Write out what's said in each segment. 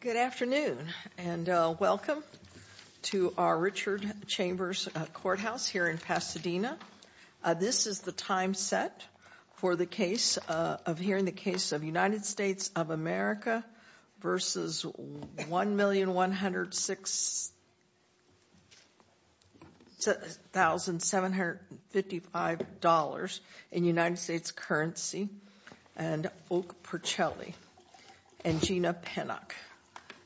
Good afternoon and welcome to our Richard Chambers Courthouse here in Pasadena. This is the time set for the case of hearing the case of United States of America v. $1,106,755 in United States currency and Oak Porcelli and Gina Pinnock.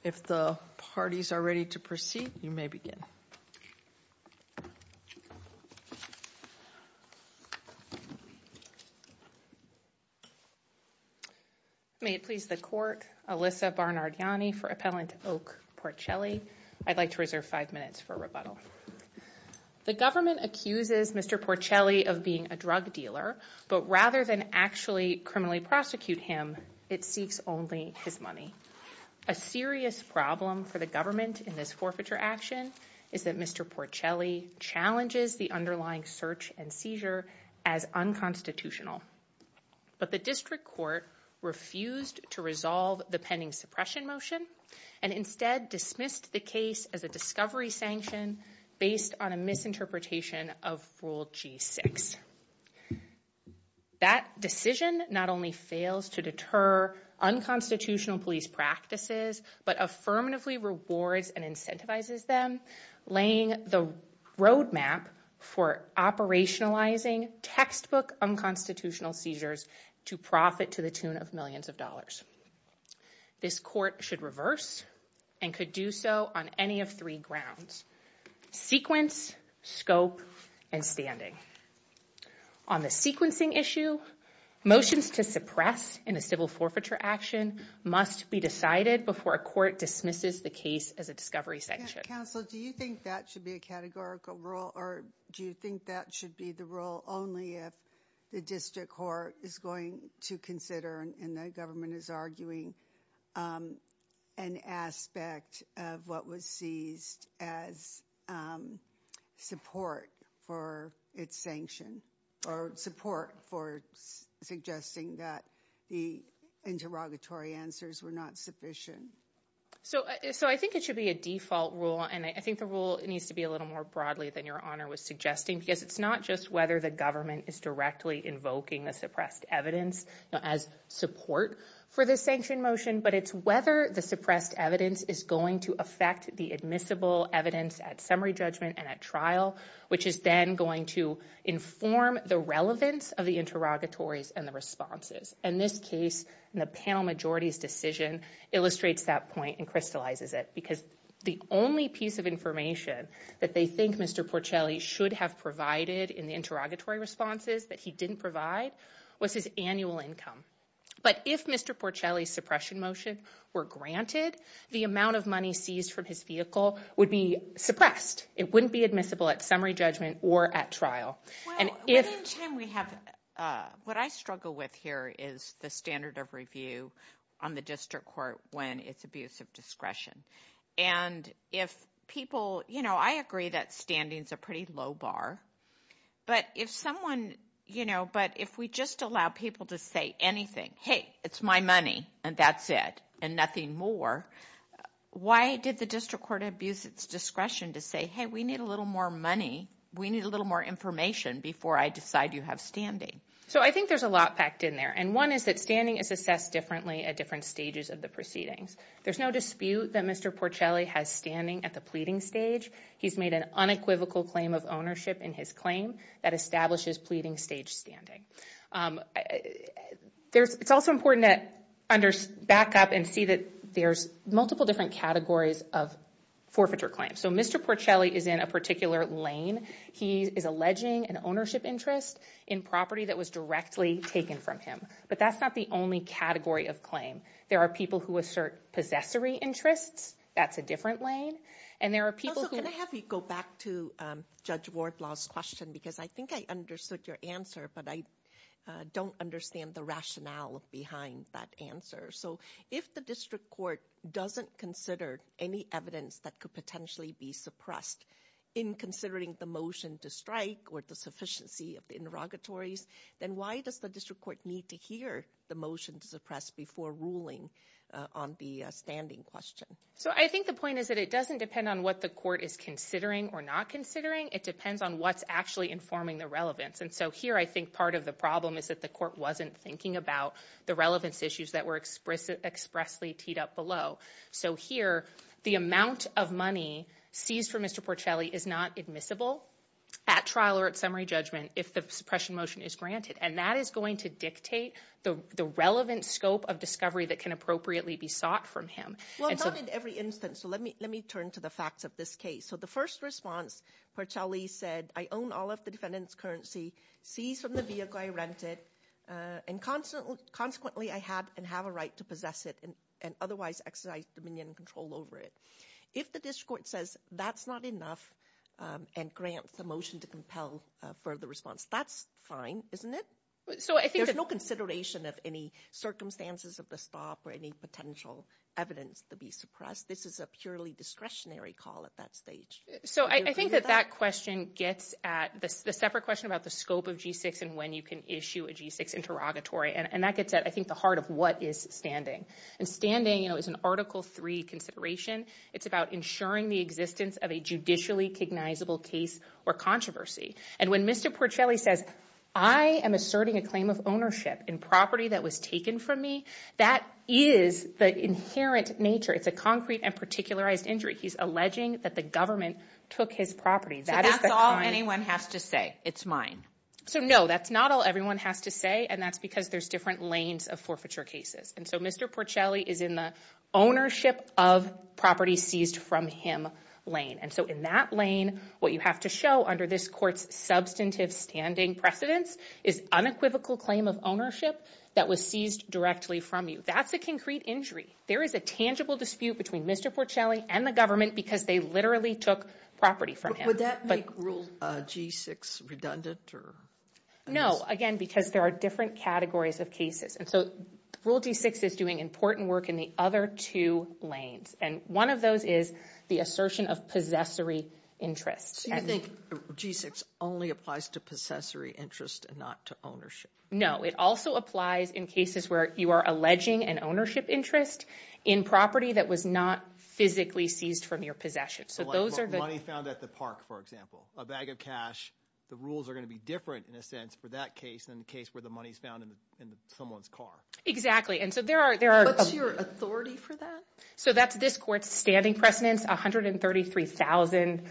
If the parties are ready to proceed, you may begin. May it please the court, Alyssa Barnardiani for appellant Oak Porcelli. I'd like to reserve five minutes for rebuttal. The government accuses Mr. Porcelli of being a drug dealer but rather than actually criminally prosecute him, it seeks only his money. A serious problem for the government in this forfeiture action is that Mr. Porcelli challenges the underlying search and seizure as unconstitutional. But the district court refused to resolve the pending suppression motion and instead dismissed the case as a discovery sanction based on a misinterpretation of Rule G6. That decision not only fails to deter unconstitutional police practices but affirmatively rewards and incentivizes them, laying the roadmap for operationalizing textbook unconstitutional seizures to profit to the tune of millions of dollars. This court should reverse and could do so on any of three grounds. Sequence, scope, and standing. On the sequencing issue, motions to suppress in a civil forfeiture action must be decided before a court dismisses the case as a discovery sanction. Counsel, do you think that should be a categorical rule or do you think that should be the rule only if the district court is going to consider and the government is arguing an aspect of what was seized as support for its sanction or support for suggesting that the interrogatory answers were not sufficient? So I think it should be a default rule and I think the rule it needs to be a little more broadly than Your Honor was suggesting because it's not just whether the government is directly invoking the suppressed evidence as support for the sanction motion but it's whether the suppressed evidence is going to affect the admissible evidence at summary judgment and at trial which is then going to inform the relevance of the interrogatories and the responses. In this case, the panel majority's decision illustrates that point and crystallizes it because the only piece of information that they think Mr. Porcelli should have provided in the interrogatory responses that he didn't provide was his annual income. But if Mr. Porcelli's suppression motion were granted, the amount of money seized from his vehicle would be suppressed. It wouldn't be admissible at summary judgment or at trial. Within the time we have, what I struggle with here is the standard of review on the district court when it's abuse of discretion and if people, you know, I agree that standings are pretty low bar, but if someone, you know, but if we just allow people to say anything, hey, it's my money and that's it and nothing more, why did the district court abuse its discretion to say, hey, we need a little more money, we need a little more information before I decide you have standing? So I think there's a lot packed in there and one is that standing is assessed differently at different stages of the proceedings. There's no dispute that Mr. Porcelli has standing at the pleading stage. He's made an unequivocal claim of ownership in his claim that establishes pleading stage standing. There's, it's also important that under, back up and see that there's multiple different categories of forfeiture claims. So Mr. Porcelli is in a particular lane. He is alleging an ownership interest in property that was directly taken from him, but that's not the only category of claim. There are people who assert possessory interests. That's a different lane and there are people who... Also, can I have you go back to Judge Wardlaw's question because I think I understood your answer, but I don't understand the rationale behind that answer. So if the district court doesn't consider any evidence that could potentially be suppressed in considering the motion to strike or the sufficiency of the interrogatories, then why does the district court need to hear the motion to suppress before ruling on the standing question? So I think the point is that it doesn't depend on what the court is considering or not considering. It depends on what's actually informing the relevance. And so here I think part of the problem is that the court wasn't thinking about the relevance issues that were expressly teed up below. So here the amount of money seized for Mr. Porcelli is not admissible at trial or at summary judgment if the suppression motion is granted. And that is going to dictate the relevant scope of discovery that can appropriately be sought from him. Well, not in every instance. So let me turn to the facts of this case. So the first response, Porcelli said, I own all of the defendant's currency, seized from the vehicle I rented, and consequently I have a right to possess it and otherwise exercise dominion and control over it. If the district court says that's not enough and grants a motion to compel further response, that's fine, isn't it? There's no consideration of any circumstances of the stop or any potential evidence to be suppressed. This is a purely discretionary call at that stage. So I think that that question gets at the separate question about the scope of G-6 and when you can issue a G-6 interrogatory. And that gets at, I think, the heart of what is standing. And standing is an Article III consideration. It's about ensuring the existence of a judicially cognizable case or controversy. And when Mr. Porcelli says, I am asserting a claim of ownership in property that was taken from me, that is the inherent nature. It's a concrete and particularized injury. He's alleging that the government took his property. So that's all anyone has to say. It's mine. So no, that's not all everyone has to say. And that's because there's different lanes of forfeiture cases. And so Mr. Porcelli is in the ownership of property seized from him lane. And so in that lane, what you have to show under this court's substantive standing precedence is unequivocal claim of ownership that was seized directly from you. That's a concrete injury. There is a tangible dispute between Mr. Porcelli and the government because they literally took property from him. Would that make Rule G-6 redundant? No, again, because there are different categories of cases. And so Rule G-6 is doing important work in the other two lanes. And one of those is the assertion of possessory interest. So you think G-6 only applies to possessory interest and not to ownership? No, it also applies in cases where you are alleging an ownership interest in property that was not physically seized from your possession. So like money found at the park, for example, a bag of cash. The rules are going to be different, in a sense, for that case than the case where the money is found in someone's car. Exactly. And so there are... What's your authority for that? So that's this court's standing precedence, 133,000.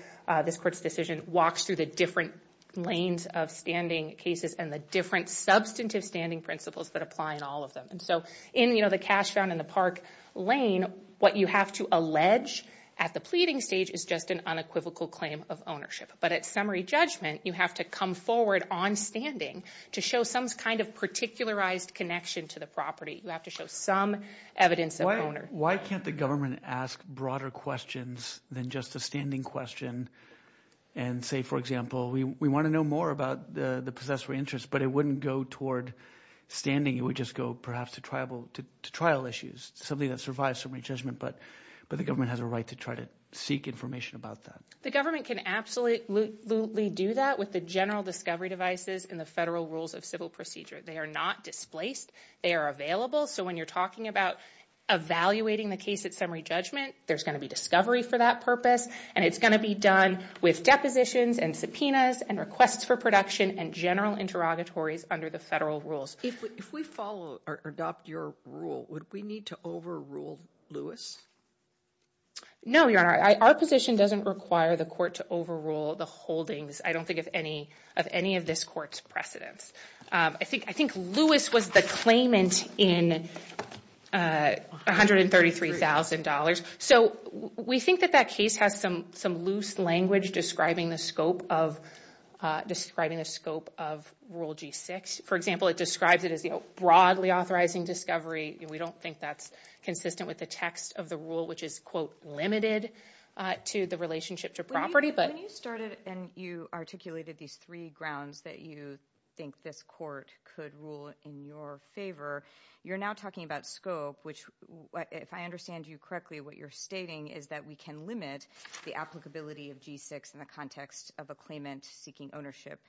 This court's decision walks through the different lanes of standing cases and the different substantive standing principles that apply in all of them. And so in the cash found in the park lane, what you have to allege at the pleading stage is just an unequivocal claim of ownership. But at summary judgment, you have to come forward on standing to show some kind of particularized connection to the property. You have to show some evidence of ownership. Why can't the government ask broader questions than just a standing question and say, for example, we want to know more about the possessory interest, but it wouldn't go toward standing. It would just go perhaps to trial issues, something that survives summary judgment. But the government has a right to try to seek information about that. The government can absolutely do that with the general discovery devices and the federal rules of civil procedure. They are not displaced. They are available. So when you're talking about evaluating the case at summary judgment, there's going to be discovery for that purpose, and it's going to be done with depositions and subpoenas and requests for production and general interrogatories under the federal rules. If we follow or adopt your rule, would we need to overrule Lewis? No, Your Honor. Our position doesn't require the court to overrule the holdings, I don't think, of any of this court's precedents. I think Lewis was the claimant in $133,000. So we think that that case has some loose language describing the scope of Rule G6. For example, it describes it as broadly authorizing discovery. We don't think that's consistent with the text of the rule, which is, quote, limited to the relationship to property. When you started and you articulated these three grounds that you think this court could rule in your favor, you're now talking about scope, which, if I understand you correctly, what you're stating is that we can limit the applicability of G6 in the context of a claimant seeking ownership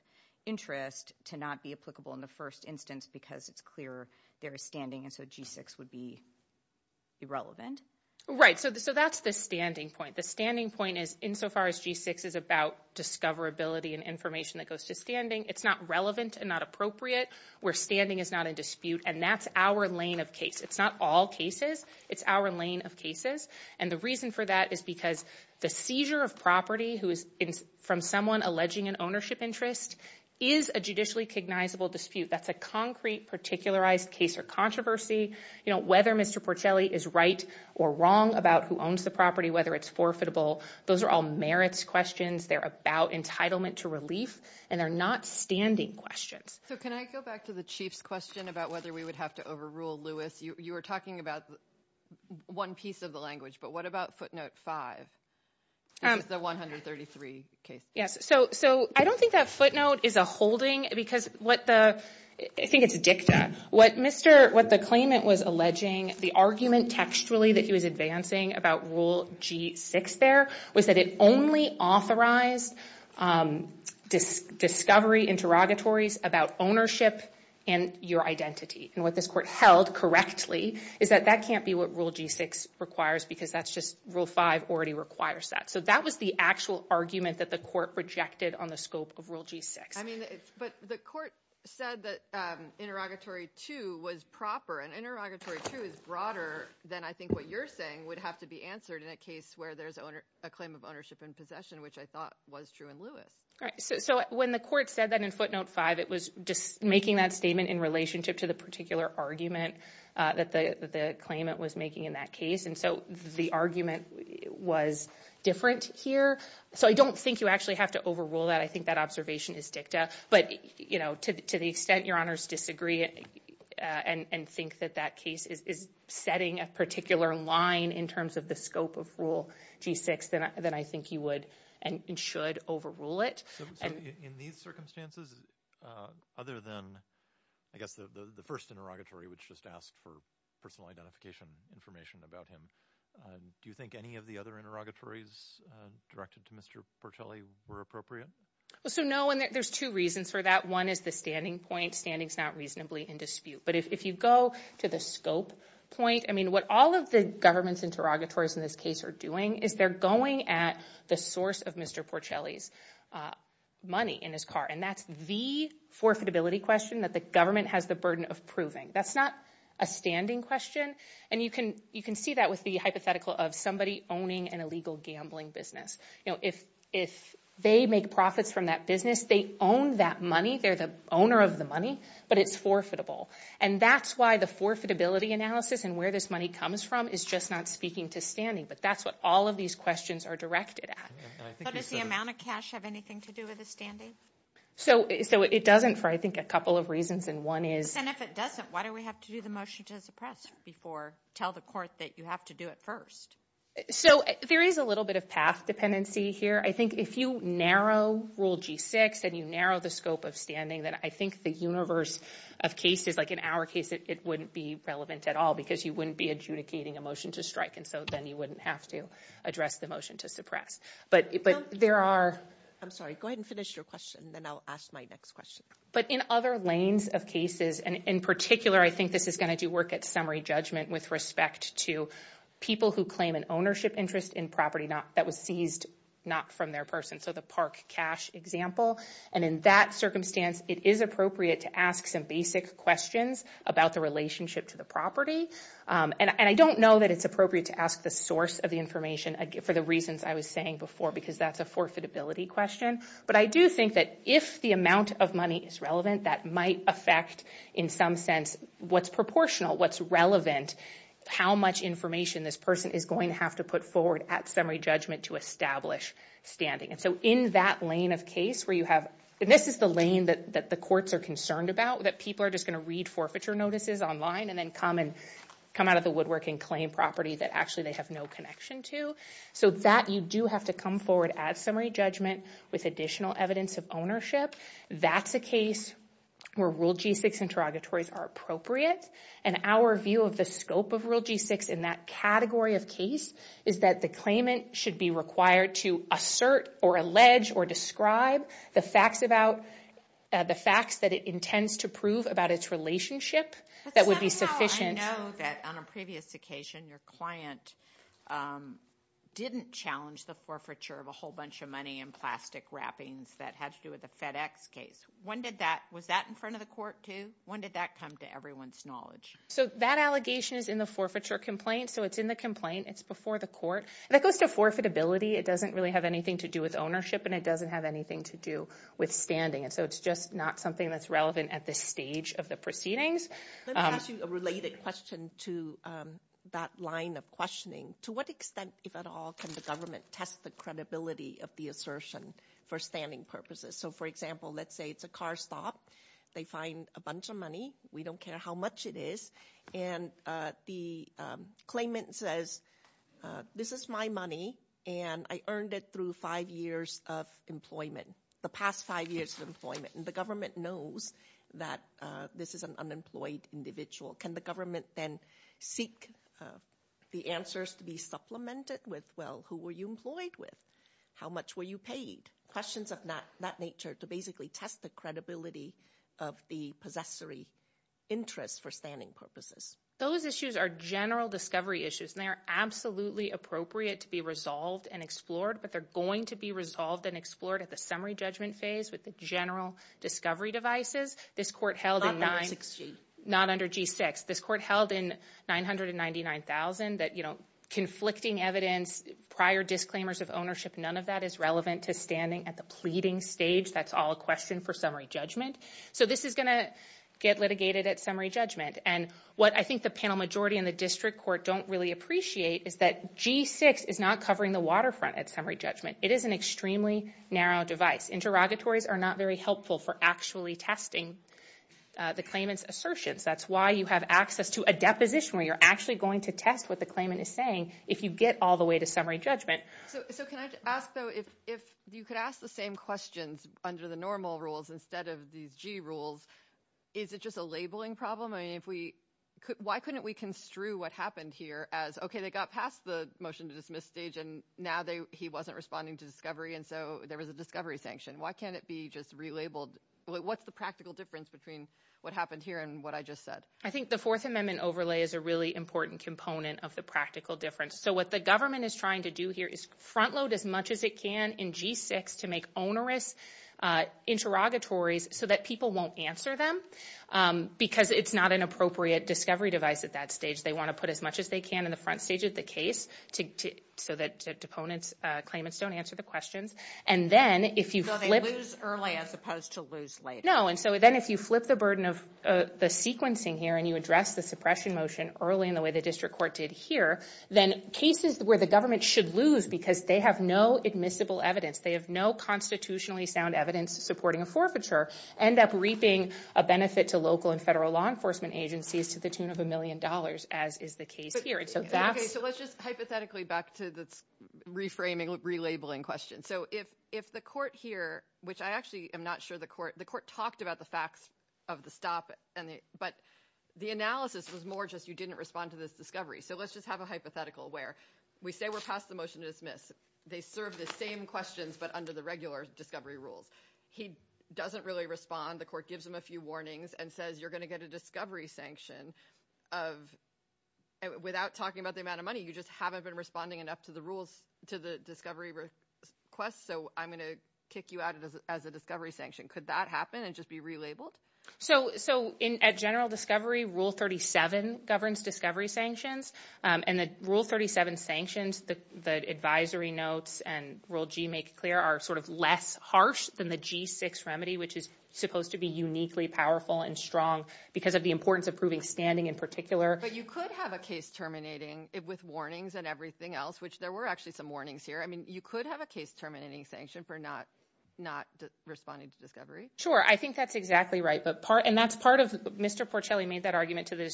interest to not be applicable in the first instance because it's clear their standing, and so G6 would be irrelevant. Right. So that's the standing point. The standing point is, insofar as G6 is about discoverability and information that goes to standing, it's not relevant and not appropriate where standing is not in dispute, and that's our lane of case. It's not all cases. It's our lane of cases. And the reason for that is because the seizure of property from someone alleging an ownership interest is a judicially cognizable dispute. That's a concrete, particularized case or controversy. Whether Mr. Porcelli is right or wrong about who owns the property, whether it's forfeitable, those are all merits questions. They're about entitlement to relief, and they're not standing questions. So can I go back to the Chief's question about whether we would have to overrule Lewis? You were talking about one piece of the language, but what about footnote 5? This is the 133 case. Yes. So I don't think that footnote is a holding because what the— I think it's a dicta. What the claimant was alleging, the argument textually that he was advancing about Rule G6 there, was that it only authorized discovery interrogatories about ownership and your identity. And what this court held correctly is that that can't be what Rule G6 requires because that's just—Rule 5 already requires that. So that was the actual argument that the court rejected on the scope of Rule G6. I mean, but the court said that Interrogatory 2 was proper, and Interrogatory 2 is broader than I think what you're saying would have to be answered in a case where there's a claim of ownership and possession, which I thought was true in Lewis. So when the court said that in footnote 5, it was just making that statement in relationship to the particular argument that the claimant was making in that case, and so the argument was different here. So I don't think you actually have to overrule that. I think that observation is dicta. But, you know, to the extent Your Honors disagree and think that that case is setting a particular line in terms of the scope of Rule G6, then I think you would and should overrule it. So in these circumstances, other than, I guess, the first interrogatory, which just asked for personal identification information about him, do you think any of the other interrogatories directed to Mr. Portelli were appropriate? So no, and there's two reasons for that. One is the standing point. Standing is not reasonably in dispute. But if you go to the scope point, I mean, what all of the government's interrogatories in this case are doing is they're going at the source of Mr. Portelli's money in his car, and that's the forfeitability question that the government has the burden of proving. That's not a standing question, and you can see that with the hypothetical of somebody owning an illegal gambling business. You know, if they make profits from that business, they own that money. They're the owner of the money, but it's forfeitable. And that's why the forfeitability analysis and where this money comes from is just not speaking to standing. But that's what all of these questions are directed at. But does the amount of cash have anything to do with the standing? So it doesn't for, I think, a couple of reasons, and one is— And if it doesn't, why do we have to do the motion to suppress before tell the court that you have to do it first? So there is a little bit of path dependency here. I think if you narrow Rule G-6 and you narrow the scope of standing, then I think the universe of cases, like in our case, it wouldn't be relevant at all because you wouldn't be adjudicating a motion to strike, and so then you wouldn't have to address the motion to suppress. But there are— I'm sorry. Go ahead and finish your question, and then I'll ask my next question. But in other lanes of cases, and in particular, I think this is going to do work with respect to people who claim an ownership interest in property that was seized not from their person, so the park cash example. And in that circumstance, it is appropriate to ask some basic questions about the relationship to the property. And I don't know that it's appropriate to ask the source of the information for the reasons I was saying before because that's a forfeitability question. But I do think that if the amount of money is relevant, that might affect, in some sense, what's proportional, what's relevant, how much information this person is going to have to put forward at summary judgment to establish standing. And so in that lane of case where you have— and this is the lane that the courts are concerned about, that people are just going to read forfeiture notices online and then come out of the woodwork and claim property that actually they have no connection to. So that you do have to come forward at summary judgment with additional evidence of ownership. That's a case where Rule G6 interrogatories are appropriate. And our view of the scope of Rule G6 in that category of case is that the claimant should be required to assert or allege or describe the facts that it intends to prove about its relationship that would be sufficient. That's not how I know that on a previous occasion, your client didn't challenge the forfeiture of a whole bunch of money and plastic wrappings that had to do with the FedEx case. When did that—was that in front of the court, too? When did that come to everyone's knowledge? So that allegation is in the forfeiture complaint. So it's in the complaint. It's before the court. And that goes to forfeitability. It doesn't really have anything to do with ownership, and it doesn't have anything to do with standing. And so it's just not something that's relevant at this stage of the proceedings. Let me ask you a related question to that line of questioning. To what extent, if at all, can the government test the credibility of the assertion for standing purposes? So, for example, let's say it's a car stop. They find a bunch of money. We don't care how much it is. And the claimant says, this is my money, and I earned it through five years of employment, the past five years of employment. And the government knows that this is an unemployed individual. Can the government then seek the answers to be supplemented with, well, who were you employed with? How much were you paid? Questions of that nature to basically test the credibility of the possessory interest for standing purposes. Those issues are general discovery issues, and they are absolutely appropriate to be resolved and explored, but they're going to be resolved and explored at the summary judgment phase with the general discovery devices. Not under G6. Not under G6. This court held in 999,000 that conflicting evidence, prior disclaimers of ownership, none of that is relevant to standing at the pleading stage. That's all a question for summary judgment. So this is going to get litigated at summary judgment. And what I think the panel majority and the district court don't really appreciate is that G6 is not covering the waterfront at summary judgment. It is an extremely narrow device. Interrogatories are not very helpful for actually testing the claimant's assertions. That's why you have access to a deposition where you're actually going to test what the claimant is saying if you get all the way to summary judgment. So can I ask, though, if you could ask the same questions under the normal rules instead of these G rules, is it just a labeling problem? I mean, if we... Why couldn't we construe what happened here as, OK, they got past the motion-to-dismiss stage and now he wasn't responding to discovery and so there was a discovery sanction? Why can't it be just relabeled? What's the practical difference between what happened here and what I just said? I think the Fourth Amendment overlay is a really important component of the practical difference. So what the government is trying to do here is front-load as much as it can in G6 to make onerous interrogatories so that people won't answer them because it's not an appropriate discovery device at that stage. They want to put as much as they can in the front stage of the case so that claimants don't answer the questions. And then if you flip... So they lose early as opposed to lose later. No, and so then if you flip the burden of the sequencing here and you address the suppression motion early in the way the district court did here, then cases where the government should lose because they have no admissible evidence, they have no constitutionally sound evidence supporting a forfeiture, end up reaping a benefit to local and federal law enforcement agencies to the tune of a million dollars, as is the case here. OK, so let's just hypothetically back to this reframing, relabeling question. So if the court here, which I actually am not sure the court... The court talked about the facts of the stop, but the analysis was more just that you didn't respond to this discovery. So let's just have a hypothetical where we say we're past the motion to dismiss. They serve the same questions, but under the regular discovery rules. He doesn't really respond. The court gives him a few warnings and says you're going to get a discovery sanction without talking about the amount of money. You just haven't been responding enough to the discovery request, so I'm going to kick you out as a discovery sanction. Could that happen and just be relabeled? So at general discovery, Rule 37 governs discovery sanctions, and the Rule 37 sanctions, the advisory notes and Rule G make clear, are sort of less harsh than the G6 remedy, which is supposed to be uniquely powerful and strong because of the importance of proving standing in particular. But you could have a case terminating with warnings and everything else, which there were actually some warnings here. I mean, you could have a case terminating sanction for not responding to discovery. Sure, I think that's exactly right, and that's part of... Mr. Porcelli made that argument to the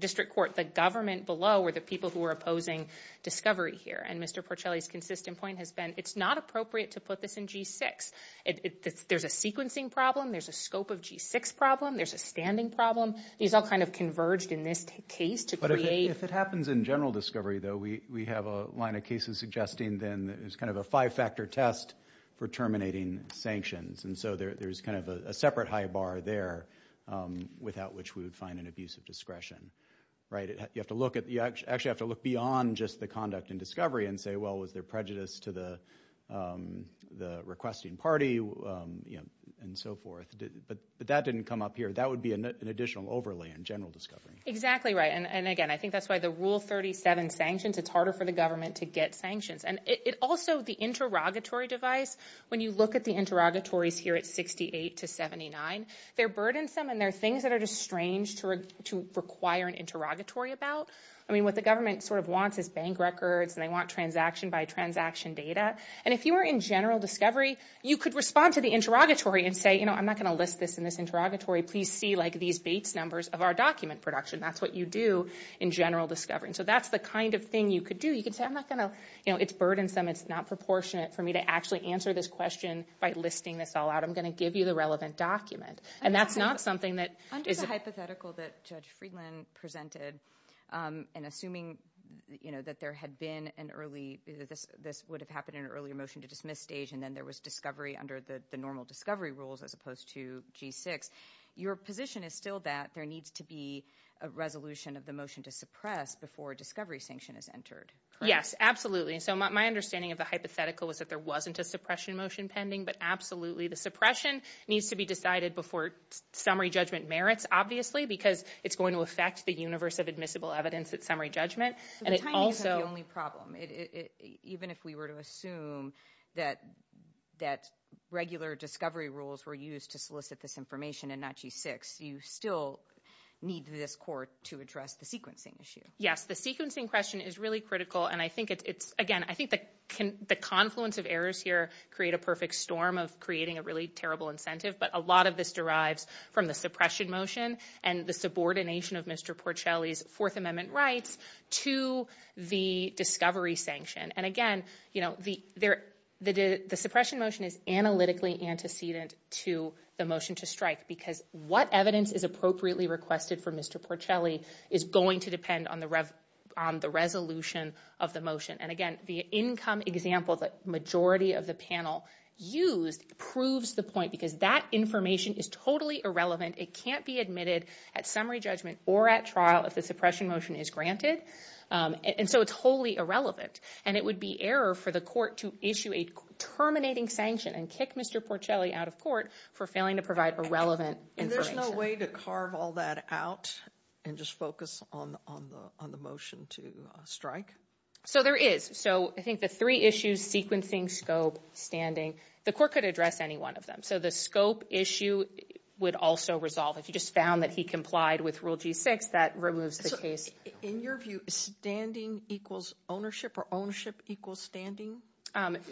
district court. The government below were the people who were opposing discovery here, and Mr. Porcelli's consistent point has been it's not appropriate to put this in G6. There's a sequencing problem. There's a scope of G6 problem. There's a standing problem. These all kind of converged in this case to create... But if it happens in general discovery, though, we have a line of cases suggesting then there's kind of a five-factor test for terminating sanctions, and so there's kind of a separate high bar there without which we would find an abuse of discretion, right? You have to look at... You actually have to look beyond just the conduct in discovery and say, well, was there prejudice to the requesting party, you know, and so forth. But that didn't come up here. That would be an additional overlay in general discovery. Exactly right, and again, I think that's why the Rule 37 sanctions, it's harder for the government to get sanctions. And it also, the interrogatory device, when you look at the interrogatories here at 68 to 79, they're burdensome and they're things that are just strange to require an interrogatory about. I mean, what the government sort of wants is bank records and they want transaction-by-transaction data. And if you were in general discovery, you could respond to the interrogatory and say, you know, I'm not going to list this in this interrogatory. Please see, like, these Bates numbers of our document production. That's what you do in general discovery. And so that's the kind of thing you could do. You could say, I'm not going to, you know, it's burdensome, it's not proportionate for me to actually answer this question by listing this all out. I'm going to give you the relevant document. And that's not something that is... Under the hypothetical that Judge Friedland presented and assuming, you know, that there had been an early, this would have happened in an earlier motion to dismiss stage and then there was discovery under the normal discovery rules as opposed to G6, your position is still that there needs to be a resolution of the motion to suppress before a discovery sanction is entered. Yes, absolutely. So my understanding of the hypothetical was that there wasn't a suppression motion pending, but absolutely the suppression needs to be decided before summary judgment merits, obviously, because it's going to affect the universe of admissible evidence at summary judgment. And it also... Even if we were to assume that regular discovery rules were used to solicit this information and not G6, you still need this court to address the sequencing issue. Yes, the sequencing question is really critical and I think it's, again, I think that the confluence of errors here create a perfect storm of creating a really terrible incentive, but a lot of this derives from the suppression motion and the subordination of Mr. Porcelli's Fourth Amendment rights to the discovery sanction. And again, you know, the suppression motion is analytically antecedent to the motion to strike because what evidence is appropriately requested for Mr. Porcelli is going to depend on the resolution of the motion. And again, the income example that the majority of the panel used proves the point because that information is totally irrelevant. It can't be admitted at summary judgment or at trial if the suppression motion is granted. And so it's wholly irrelevant. And it would be error for the court to issue a terminating sanction and kick Mr. Porcelli out of court for failing to provide a relevant information. And there's no way to carve all that out and just focus on the motion to strike? So there is. So I think the three issues, sequencing, scope, standing, the court could address any one of them. So the scope issue would also resolve. If you just found that he complied with Rule G6, that removes the case. In your view, standing equals ownership or ownership equals standing?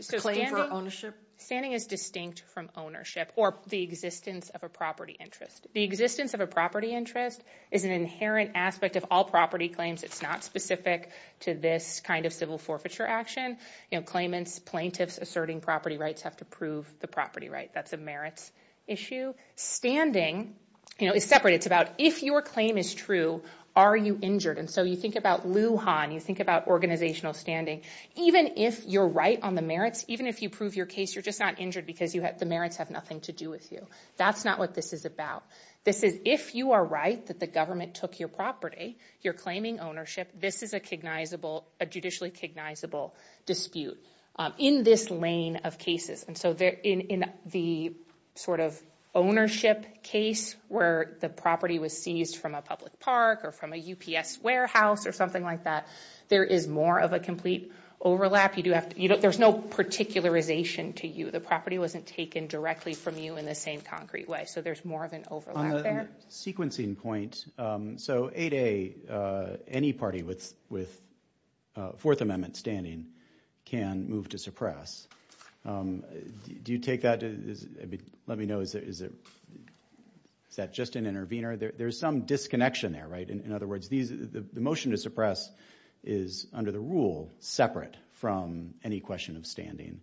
Standing for ownership? Standing is distinct from ownership or the existence of a property interest. The existence of a property interest is an inherent aspect of all property claims. It's not specific to this kind of civil forfeiture action. Claimants, plaintiffs asserting property rights have to prove the property right. That's a merits issue. Standing is separate. It's about if your claim is true, are you injured? And so you think about Lujan. You think about organizational standing. Even if you're right on the merits, even if you prove your case, you're just not injured because the merits have nothing to do with you. That's not what this is about. This is if you are right that the government took your property, you're claiming ownership, this is a judicially cognizable dispute in this lane of cases. And so in the sort of ownership case where the property was seized from a public park or from a UPS warehouse or something like that, there is more of a complete overlap. There's no particularization to you. The property wasn't taken directly from you in the same concrete way. So there's more of an overlap there. On the sequencing point, so 8A, any party with Fourth Amendment standing can move to suppress. Do you take that? Let me know. Is that just an intervener? There's some disconnection there, right? In other words, the motion to suppress is, under the rule, separate from any question of standing.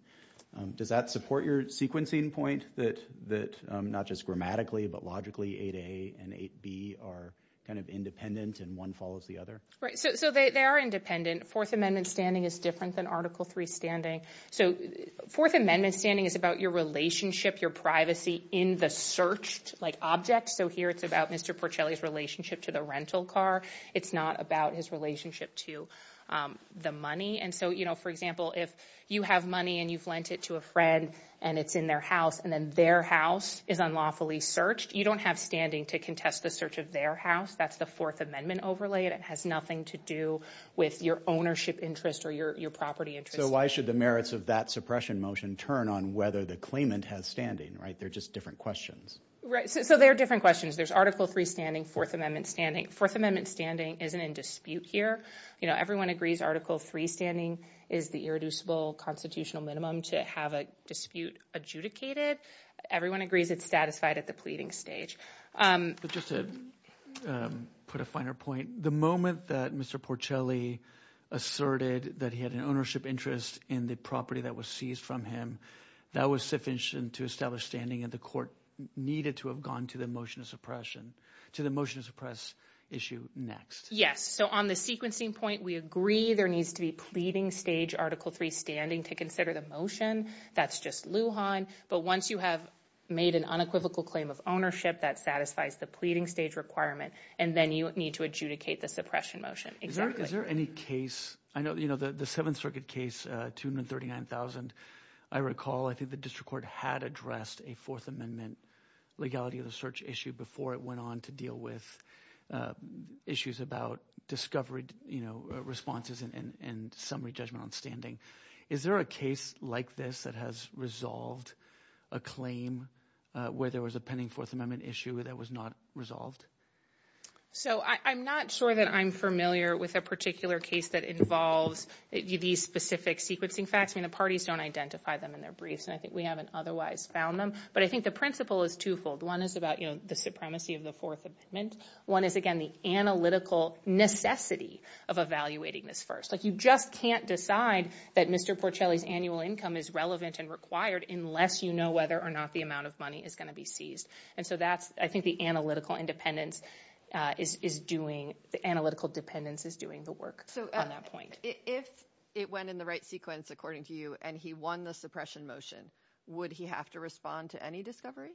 Does that support your sequencing point that not just grammatically but logically 8A and 8B are kind of independent and one follows the other? Right, so they are independent. Fourth Amendment standing is different than Article III standing. So Fourth Amendment standing is about your relationship, your privacy in the searched object. So here it's about Mr. Porcelli's relationship to the rental car. It's not about his relationship to the money. And so, you know, for example, if you have money and you've lent it to a friend and it's in their house and then their house is unlawfully searched, you don't have standing to contest the search of their house. That's the Fourth Amendment overlay. It has nothing to do with your ownership interest or your property interest. So why should the merits of that suppression motion turn on whether the claimant has standing, right? They're just different questions. There's Article III standing, Fourth Amendment standing. Fourth Amendment standing isn't in dispute here. You know, everyone agrees Article III standing is the irreducible constitutional minimum to have a dispute adjudicated. Everyone agrees it's satisfied at the pleading stage. But just to put a finer point, the moment that Mr. Porcelli asserted that he had an ownership interest in the property that was seized from him, that was sufficient to establish standing and the court needed to have gone to the motion to suppress issue next. Yes. So on the sequencing point, we agree there needs to be pleading stage Article III standing to consider the motion. That's just Lujan. But once you have made an unequivocal claim of ownership, that satisfies the pleading stage requirement and then you need to adjudicate the suppression motion. Is there any case, the Seventh Circuit case, 239,000, I recall I think the district court had addressed a Fourth Amendment legality of the search issue before it went on to deal with issues about discovery, you know, responses and summary judgment on standing. Is there a case like this that has resolved a claim where there was a pending Fourth Amendment issue that was not resolved? So I'm not sure that I'm familiar with a particular case that involves these specific sequencing facts. I mean, the parties don't identify them in their briefs, and I think we haven't otherwise found them. But I think the principle is twofold. One is about, you know, the supremacy of the Fourth Amendment. One is, again, the analytical necessity of evaluating this first. Like, you just can't decide that Mr. Porcelli's annual income is relevant and required unless you know whether or not the amount of money is going to be seized. And so that's, I think, the analytical independence is doing, the analytical dependence is doing the work on that point. If it went in the right sequence, according to you, and he won the suppression motion, would he have to respond to any discovery?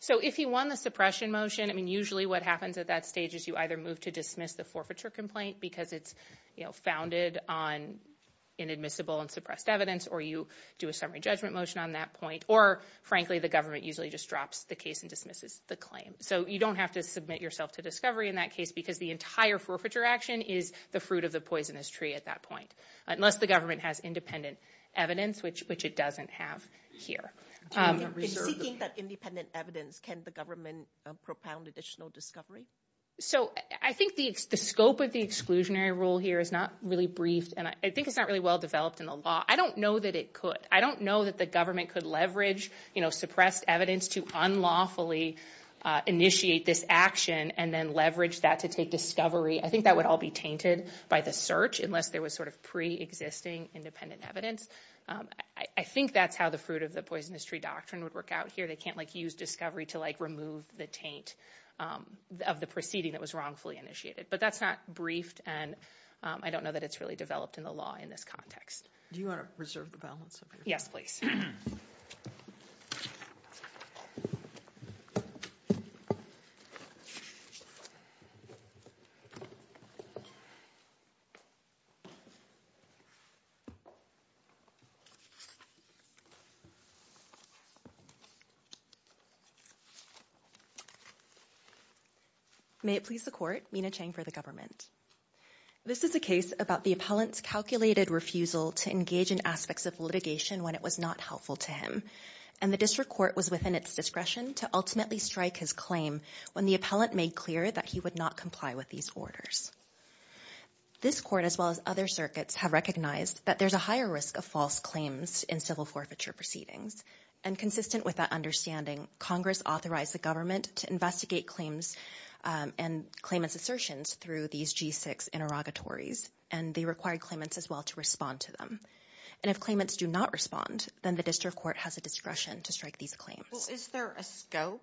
So if he won the suppression motion, I mean, usually what happens at that stage is you either move to dismiss the forfeiture complaint because it's, you know, founded on inadmissible and suppressed evidence, or you do a summary judgment motion on that point, or, frankly, the government usually just drops the case and dismisses the claim. So you don't have to submit yourself to discovery in that case because the entire forfeiture action is the fruit of the poisonous tree at that point, unless the government has independent evidence, which it doesn't have here. In seeking that independent evidence, can the government propound additional discovery? So I think the scope of the exclusionary rule here is not really briefed, and I think it's not really well developed in the law. I don't know that it could. I don't know that the government could leverage suppressed evidence to unlawfully initiate this action and then leverage that to take discovery. I think that would all be tainted by the search unless there was sort of pre-existing independent evidence. I think that's how the fruit of the poisonous tree doctrine would work out here. They can't, like, use discovery to, like, remove the taint of the proceeding that was wrongfully initiated. But that's not briefed, and I don't know that it's really developed in the law in this context. Do you want to reserve the balance of your time? Yes, please. May it please the Court, Mina Chang for the Government. This is a case about the appellant's calculated refusal to engage in aspects of litigation when it was not helpful to him, and the district court was within its discretion to ultimately strike his claim when the appellant made clear that he would not comply with these orders. This Court, as well as other circuits, have recognized that there's a higher risk of false claims in civil forfeiture proceedings, and consistent with that understanding, Congress authorized the government to investigate claims and claimant's assertions through these G6 interrogatories, and they required claimants as well to respond to them. And if claimants do not respond, then the district court has a discretion to strike these claims. Well, is there a scope?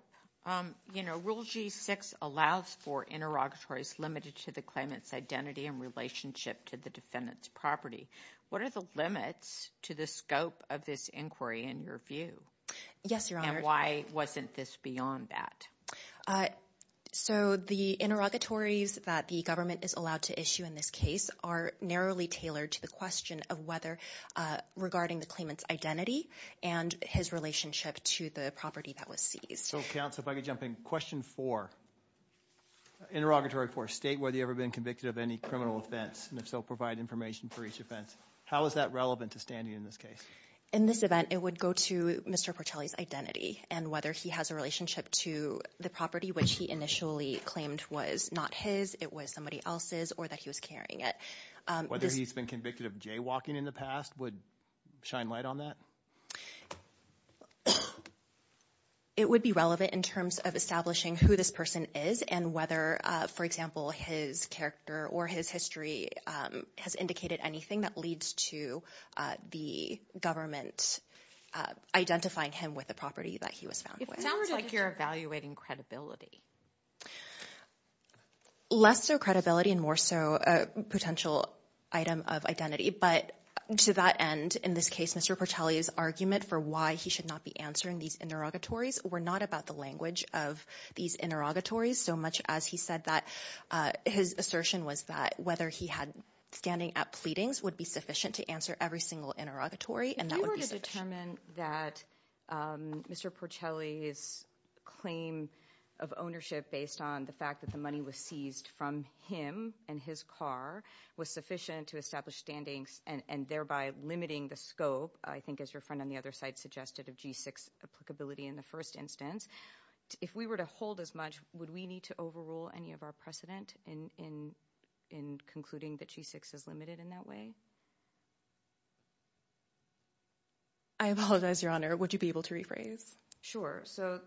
You know, Rule G6 allows for interrogatories limited to the claimant's identity in relationship to the defendant's property. What are the limits to the scope of this inquiry in your view? Yes, Your Honor. And why wasn't this beyond that? So, the interrogatories that the government is allowed to issue in this case are narrowly tailored to the question of whether, regarding the claimant's identity and his relationship to the property that was seized. So, counsel, if I could jump in. Question four. Interrogatory four. State whether you've ever been convicted of any criminal offense, and if so, provide information for each offense. How is that relevant to standing in this case? In this event, it would go to Mr. Portelli's identity and whether he has a relationship to the property which he initially claimed was not his, it was somebody else's, or that he was carrying it. Whether he's been convicted of jaywalking in the past would shine light on that? It would be relevant in terms of establishing who this person is and whether, for example, his character or his history has indicated anything that leads to the government identifying him with the property that he was found with. It sounds like you're evaluating credibility. Less so credibility and more so a potential item of identity, but to that end, in this case, Mr. Portelli's argument for why he should not be answering these interrogatories were not about the language of these interrogatories so much as he said that his assertion was that whether he had standing at pleadings would be sufficient to answer every single interrogatory, and that would be sufficient. If you were to determine that Mr. Portelli's claim of ownership based on the fact that the money was seized from him and his car was sufficient to establish standings and thereby limiting the scope, I think as your friend on the other side suggested, of G6 applicability in the first instance, if we were to hold as much, would we need to overrule any of our precedent in concluding that G6 is limited in that way? I apologize, Your Honor. Would you be able to rephrase? Sure. So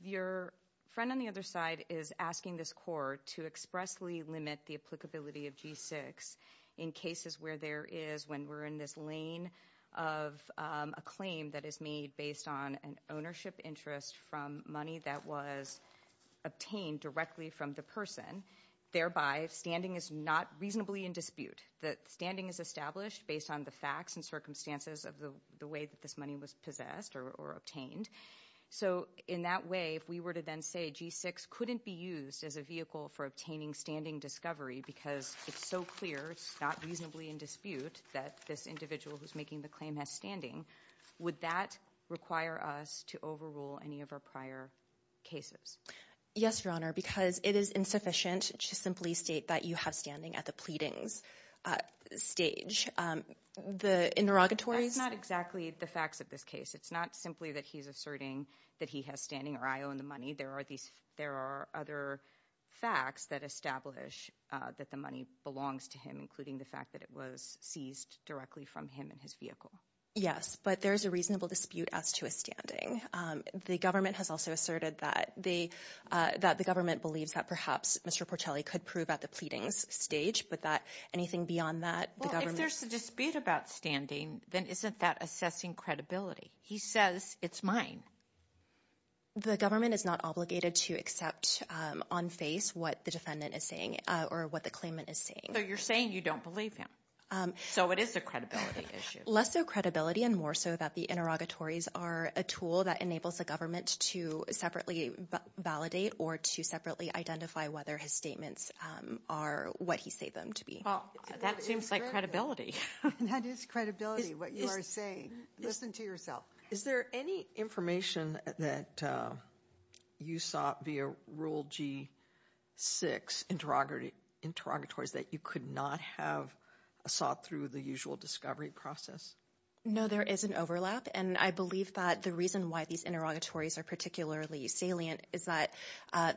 your friend on the other side is asking this court to expressly limit the applicability of G6 in cases where there is, when we're in this lane of a claim that is made based on an ownership interest from money that was obtained directly from the person, thereby standing is not reasonably in dispute. The standing is established based on the facts and circumstances of the way that this money was possessed or obtained. So in that way, if we were to then say G6 couldn't be used as a vehicle for obtaining standing discovery because it's so clear it's not reasonably in dispute that this individual who's making the claim has standing, would that require us to overrule any of our prior cases? Yes, Your Honor, because it is insufficient to simply state that you have standing at the pleadings stage. The interrogatories... That's not exactly the facts of this case. It's not simply that he's asserting that he has standing or I own the money. There are other facts that establish that the money belongs to him, including the fact that it was seized directly from him and his vehicle. Yes, but there's a reasonable dispute as to a standing. The government has also asserted that the government believes that perhaps Mr. Portelli could prove at the pleadings stage but that anything beyond that... Well, if there's a dispute about standing then isn't that assessing credibility? He says it's mine. The government is not obligated to accept on face what the defendant is saying or what the claimant is saying. So you're saying you don't believe him. So it is a credibility issue. Less so credibility and more so that the interrogatories are a tool that enables the government to separately validate or to separately identify whether his statements are what he say them to be. That seems like credibility. That is credibility, what you are saying. Listen to yourself. Is there any information that you sought via Rule G6 interrogatories that you could not have sought through the usual discovery process? No, there is an overlap and I believe that the reason why these interrogatories are particularly salient is that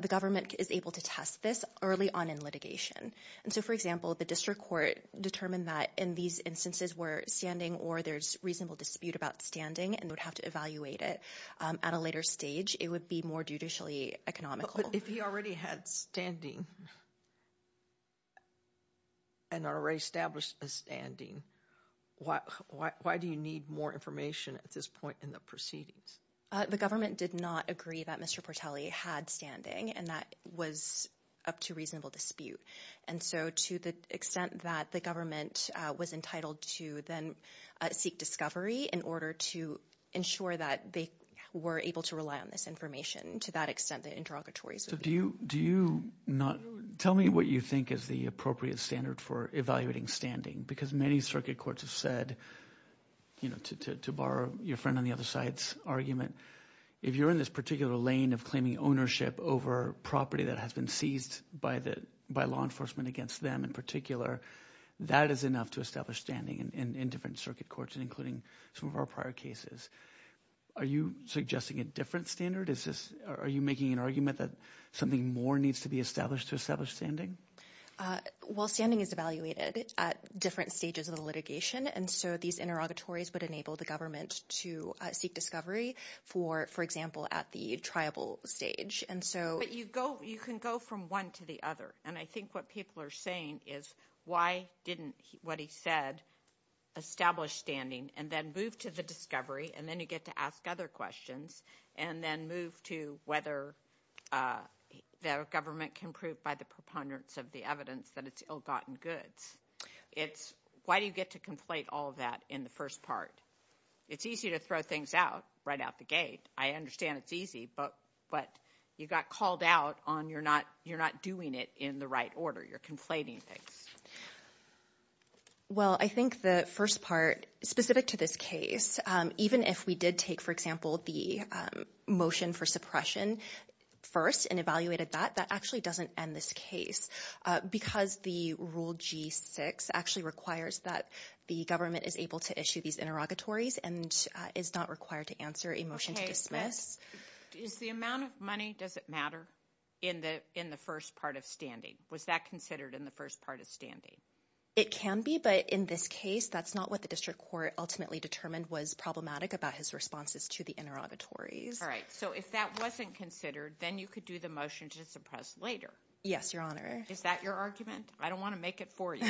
the government is able to test this early on in litigation. So, for example, the district court determined that in these instances where standing or there is reasonable dispute about standing and they would have to evaluate it at a later stage. It would be more judicially economical. But if he already had standing and already established a standing, why do you need more information at this point in the proceedings? The government did not agree that Mr. Portelli had standing and that was up to reasonable dispute. And so to the extent that the government was entitled to then seek discovery in order to ensure that they were able to rely on this information to that extent the interrogatories would be. So do you not tell me what you think is the appropriate standard for evaluating standing? Because many circuit courts have said to borrow your friend on the other side's argument if you are in this particular lane of claiming ownership over property that has been seized by law enforcement against them in particular that is enough to establish standing in different circuit courts including some of our prior cases. Are you suggesting a different standard? Are you making an argument that something more needs to be established to establish standing? Well standing is evaluated at different stages of the litigation and so these interrogatories would enable the government to seek discovery for example at the tribal stage. But you can go from one to the other and I think what people are saying is why didn't what he said establish standing and then move to the discovery and then you get to ask other questions and then move to whether the government can prove by the proponents of the evidence that it's ill gotten goods. Why do you get to conflate all that in the first part? It's easy to throw things out right out the gate. I understand it's easy but you got called out on you're not doing it in the right order. You're conflating things. Well I think the first part specific to this case even if we did take for example the motion for suppression first and evaluated that, that actually doesn't end this case because the rule G6 actually requires that the government is able to issue these interrogatories and is not required to answer a motion to dismiss. Is the amount of money, does it matter in the first part of standing? Was that considered in the first part of standing? It can be but in this case that's not what the district court ultimately determined was problematic about his responses to the interrogatories. Alright so if that wasn't considered then you could do the motion to suppress later. Yes your honor. Is that your argument? I don't want to make it for you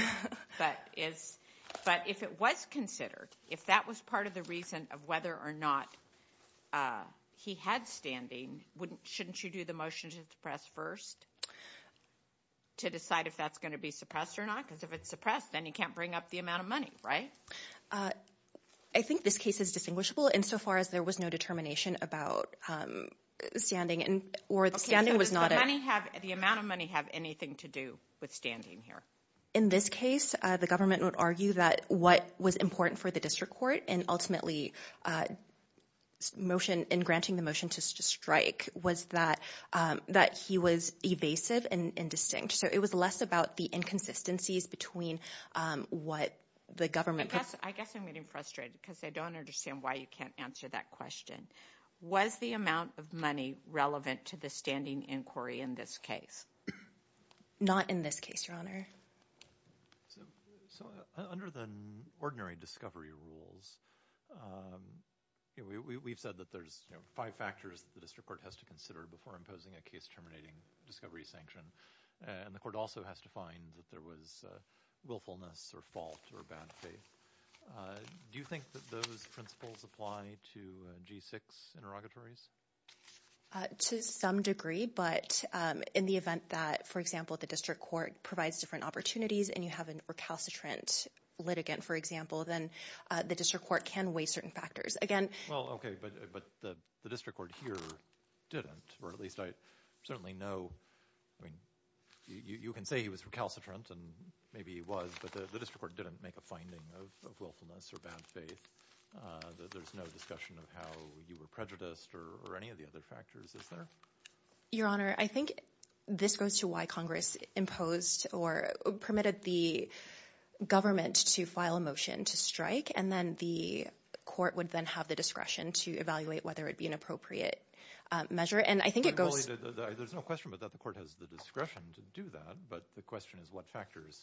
but if it was considered if that was part of the reason of whether or not he had standing, shouldn't you do the motion to suppress first to decide if that's going to be suppressed or not because if it's suppressed then you can't bring up the amount of money, right? I think this case is distinguishable in so far as there was no determination about standing or the standing was not. Does the amount of money have anything to do with standing here? In this case the government would argue that what was important for the district court and ultimately in granting the motion to strike was that he was evasive and indistinct so it was less about the inconsistencies between what the government I guess I'm getting frustrated because I don't understand why you can't answer that question. Was the amount of money relevant to the standing inquiry in this case? Not in this case your honor. So under the ordinary discovery rules we've said that there's five factors that the district court has to consider before imposing a case terminating discovery sanction and the court also has to find that there was willfulness or fault or bad faith. Do you think that those principles apply to G6 interrogatories? To some degree but in the event that for example the district court provides different opportunities and you have a recalcitrant litigant for example then the district court can weigh certain factors. Well okay but the district court here didn't or at least I certainly know I mean you can say he was recalcitrant and maybe he was but the district court didn't make a finding of willfulness or bad faith that there's no discussion of how you were prejudiced or any of the other factors is there? Your honor I think this goes to why Congress imposed or permitted the government to file a motion to strike and then the court would then have the discretion to evaluate whether it would be an appropriate measure and I think it goes There's no question but that the court has the discretion to do that but the question is what factors,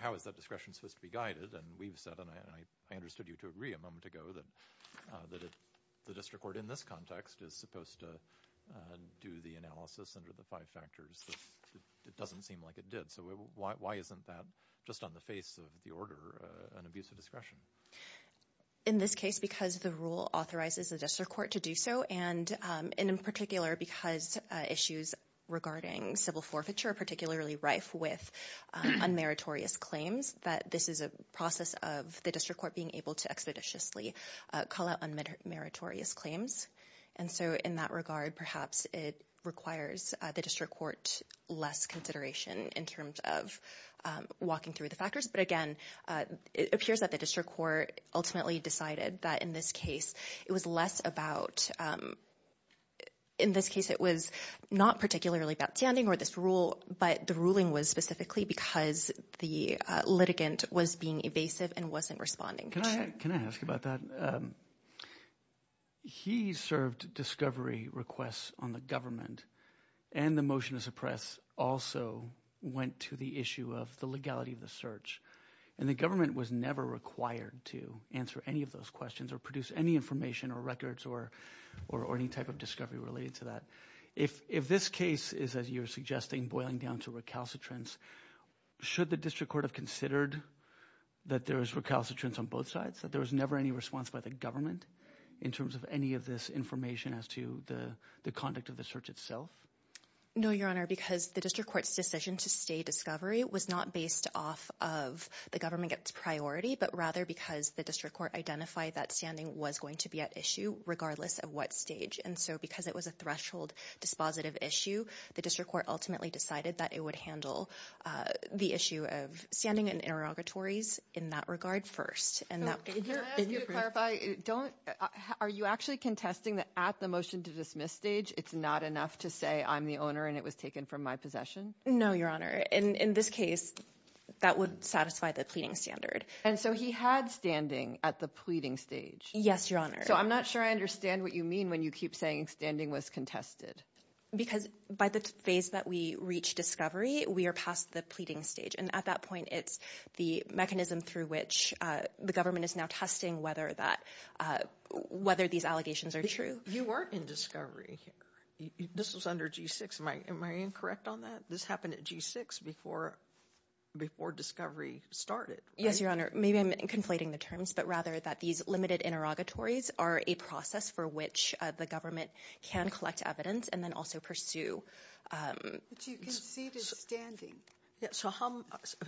how is that discretion supposed to be guided and we've said and I understood you to agree a moment ago that the district court in this context is supposed to do the analysis under the five factors but it doesn't seem like it did so why isn't that just on the face of the order an abuse of discretion? In this case because the rule authorizes the district court to do so and in particular because issues regarding civil forfeiture are particularly rife with unmeritorious claims that this is a process of the district court being able to expeditiously call out unmeritorious claims and so in that regard perhaps it requires the district court less consideration in terms of walking through the factors but again it appears that the district court ultimately decided that in this case it was less about in this case it was not particularly about standing or this rule but the ruling was specifically because the litigant was being evasive and wasn't responding Can I ask about that? He served discovery requests on the government and the motion to suppress also went to the issue of the legality of the search and the government was never required to answer any of those questions or produce any information or records or any type of discovery related to that. If this case is as you're suggesting boiling down to recalcitrance should the district court have considered that there is recalcitrance on both sides that there was never any response by the government in terms of any of this information as to the conduct of the search itself? No your honor because the district court's decision to stay discovery was not based off of the government gets priority but rather because the district court identified that standing was going to be at issue regardless of what stage and so because it was a threshold dispositive issue the district court ultimately decided that it would handle the issue of standing and interrogatories in that regard first Can I ask you to clarify are you actually contesting that at the motion to dismiss stage it's not enough to say I'm the owner and it was taken from my possession? No your honor in this case that would satisfy the pleading standard And so he had standing at the pleading stage? Yes your honor So I'm not sure I understand what you mean when you keep saying standing was contested Because by the phase that we reach discovery we are past the pleading stage and at that point it's the mechanism through which the government is now testing whether that whether these allegations are true You weren't in discovery This was under G6 Am I incorrect on that? This happened at G6 before discovery started Yes your honor, maybe I'm conflating the terms but rather that these limited interrogatories are a process for which the government can collect evidence and then also pursue But you conceded standing So how,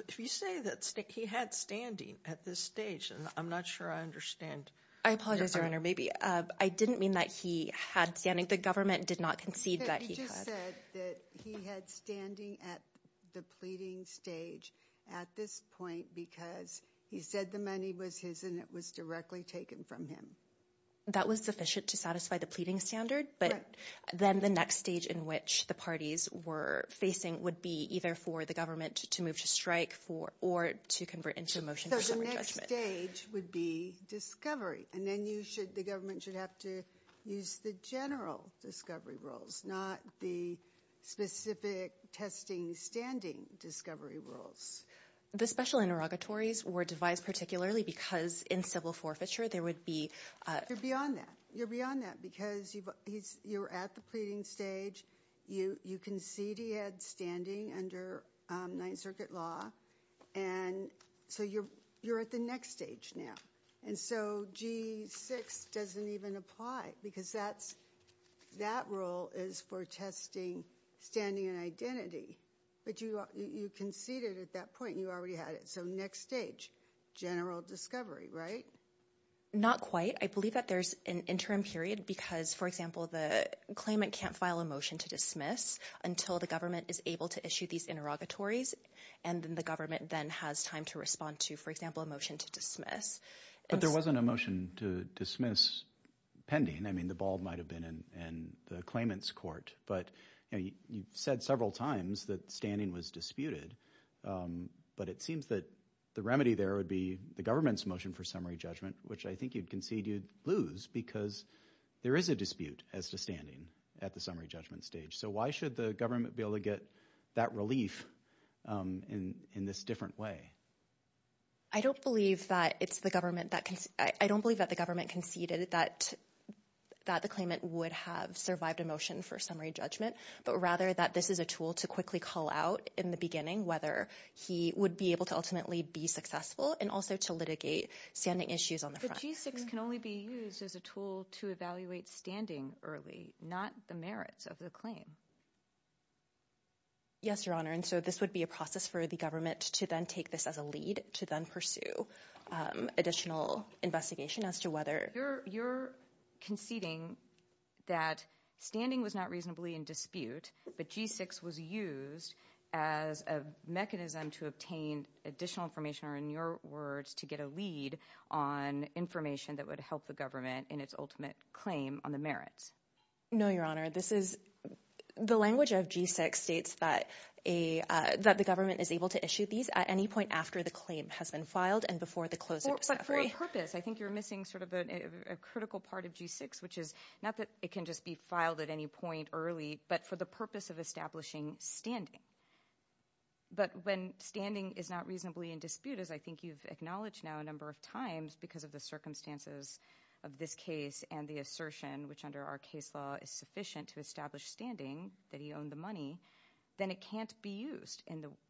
if you say that he had standing at this stage I'm not sure I understand I apologize your honor, maybe I didn't mean that he had standing, the government did not concede that he had He just said that he had standing at the pleading stage at this point because he said the money was his and it was directly taken from him That was sufficient to satisfy the pleading standard but then the next stage in which the parties were facing would be either for the government to move to strike or to convert into a motion for separate judgment So the next stage would be discovery and then the government should have to use the general discovery rules, not the specific testing standing discovery rules The special interrogatories were devised particularly because in civil forfeiture there would be You're beyond that because you're at the pleading stage you conceded he had standing under 9th circuit law and so you're at the next stage now and so G6 doesn't even apply because that's that rule is for testing standing and identity, but you conceded at that point and you already had it so next stage, general discovery, right? Not quite, I believe that there's an interim period because for example the claimant can't file a motion to dismiss until the government is able to issue these interrogatories and then the government then has time to respond to for example a motion to dismiss But there wasn't a motion to dismiss pending, I mean the ball might have been in the claimant's court but you've said several times that standing was disputed but it seems that the remedy there would be the government's motion for summary judgment which I think you'd concede you'd lose because there is a dispute as to standing at the summary judgment stage so why should the government be able to get that relief in this different way? I don't believe that it's the government I don't believe that the government conceded that the claimant would have survived a motion for summary judgment, but rather that this is a tool to quickly call out in the beginning whether he would be able to ultimately be successful and also to litigate standing issues on the front But G6 can only be used as a tool to evaluate standing early not the merits of the claim Yes your honor and so this would be a process for the government to then take this as a lead to then pursue additional investigation as to whether You're conceding that standing was not reasonably in dispute but G6 was used as a mechanism to obtain additional information or in your words to get a lead on information that would help the government in its ultimate claim on the merits No your honor, this is the language of G6 states that that the government is able to issue these at any point after the claim has been filed and before the close of the summary But for a purpose, I think you're missing sort of a critical part of G6 which is not that it can just be filed at any point early, but for the purpose of establishing standing But when standing is not reasonably in dispute as I think you've acknowledged now a number of times because of the circumstances of this case and the assertion which under our case law is sufficient to establish standing that he owned the money then it can't be used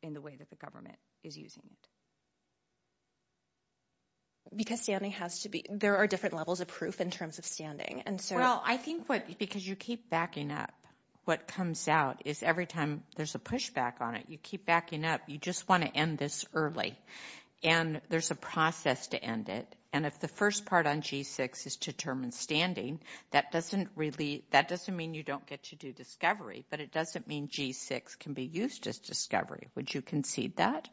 in the way that the government is using it Because standing has to be, there are different levels of proof in terms of standing Well I think because you keep backing up what comes out is every time there's a push back on it you keep backing up, you just want to end this early and there's a process to end it and if the first part on G6 is to determine standing, that doesn't really that doesn't mean you don't get to do discovery but it doesn't mean G6 can be used as discovery. Would you concede that?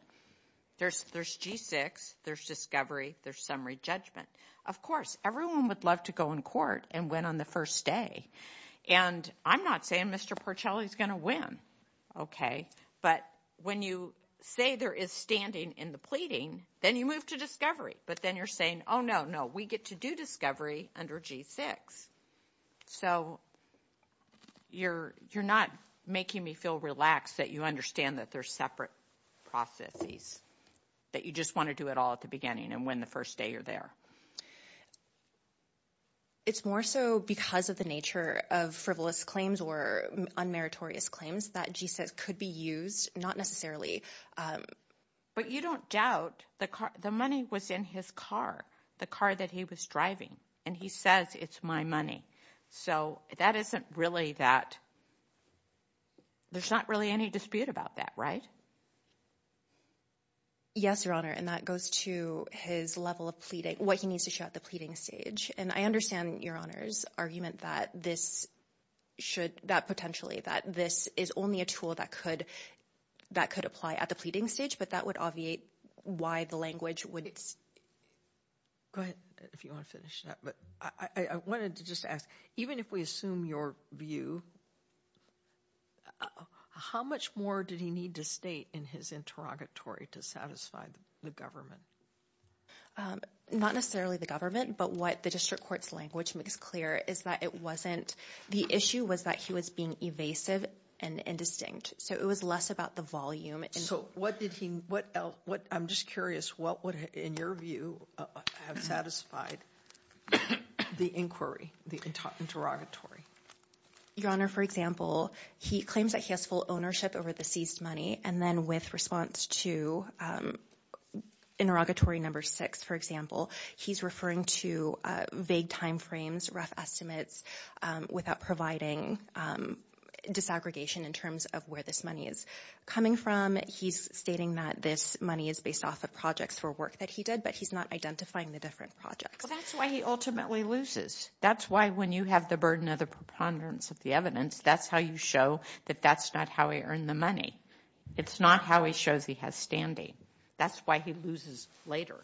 There's G6, there's discovery, there's summary judgment. Of course, everyone would love to go in court and win on the first day and I'm not saying Mr. Porcelli's going to win okay, but when you say there is standing in the pleading, then you move to discovery but then you're saying, oh no, no we get to do discovery under G6 so you're not making me feel relaxed that you understand that there's separate processes, that you just want to do it all at the beginning and win the first day you're there It's more so because of the nature of frivolous claims or unmeritorious claims that G6 could be used, not necessarily but you don't doubt the money was in his car, the car that he was driving, and he says it's my money, so that isn't really that there's not really any dispute about that, right? Yes, Your Honor and that goes to his level of pleading, what he needs to show at the pleading stage and I understand Your Honor's argument that this should that potentially, that this is only a tool that could apply at the pleading stage, but that would obviate why the language would Go ahead if you want to finish that, but I wanted to just ask, even if we assume your view how much more did he need to state in his interrogatory to satisfy the government? Not necessarily the government, but what the district court's language makes clear is that it wasn't, the issue was that he was being evasive and indistinct so it was less about the volume So what did he, what else, I'm just curious, what would, in your view, have satisfied the inquiry the interrogatory? Your Honor, for example he claims that he has full ownership over the seized money, and then with response to interrogatory number six, for example he's referring to vague time frames, rough estimates without providing disaggregation in terms of where this money is coming from he's stating that this money is based off of projects for work that he did but he's not identifying the different projects That's why he ultimately loses That's why when you have the burden of the preponderance of the evidence, that's how you show that that's not how he earned the money It's not how he shows he has standing. That's why he loses later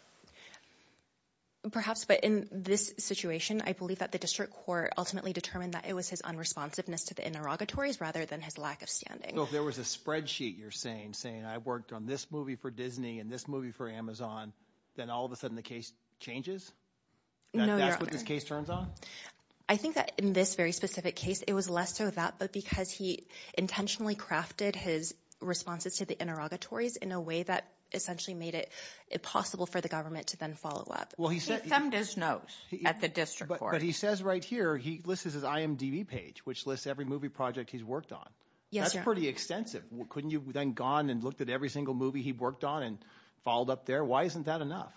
Perhaps, but in this situation I believe that the district court ultimately determined that it was his unresponsiveness to the interrogatories rather than his lack of standing So if there was a spreadsheet you're saying saying I worked on this movie for Disney and this movie for Amazon, then all of a sudden the case changes? That's what this case turns on? I think that in this very specific case it was less so that, but because he intentionally crafted his responses to the interrogatories in a way that essentially made it possible for the government to then follow up He thumbed his nose at the district court But he says right here, he lists his IMDB page, which lists every movie project he's worked on. That's pretty extensive Couldn't you have then gone and looked at every single movie he worked on and followed up there? Why isn't that enough?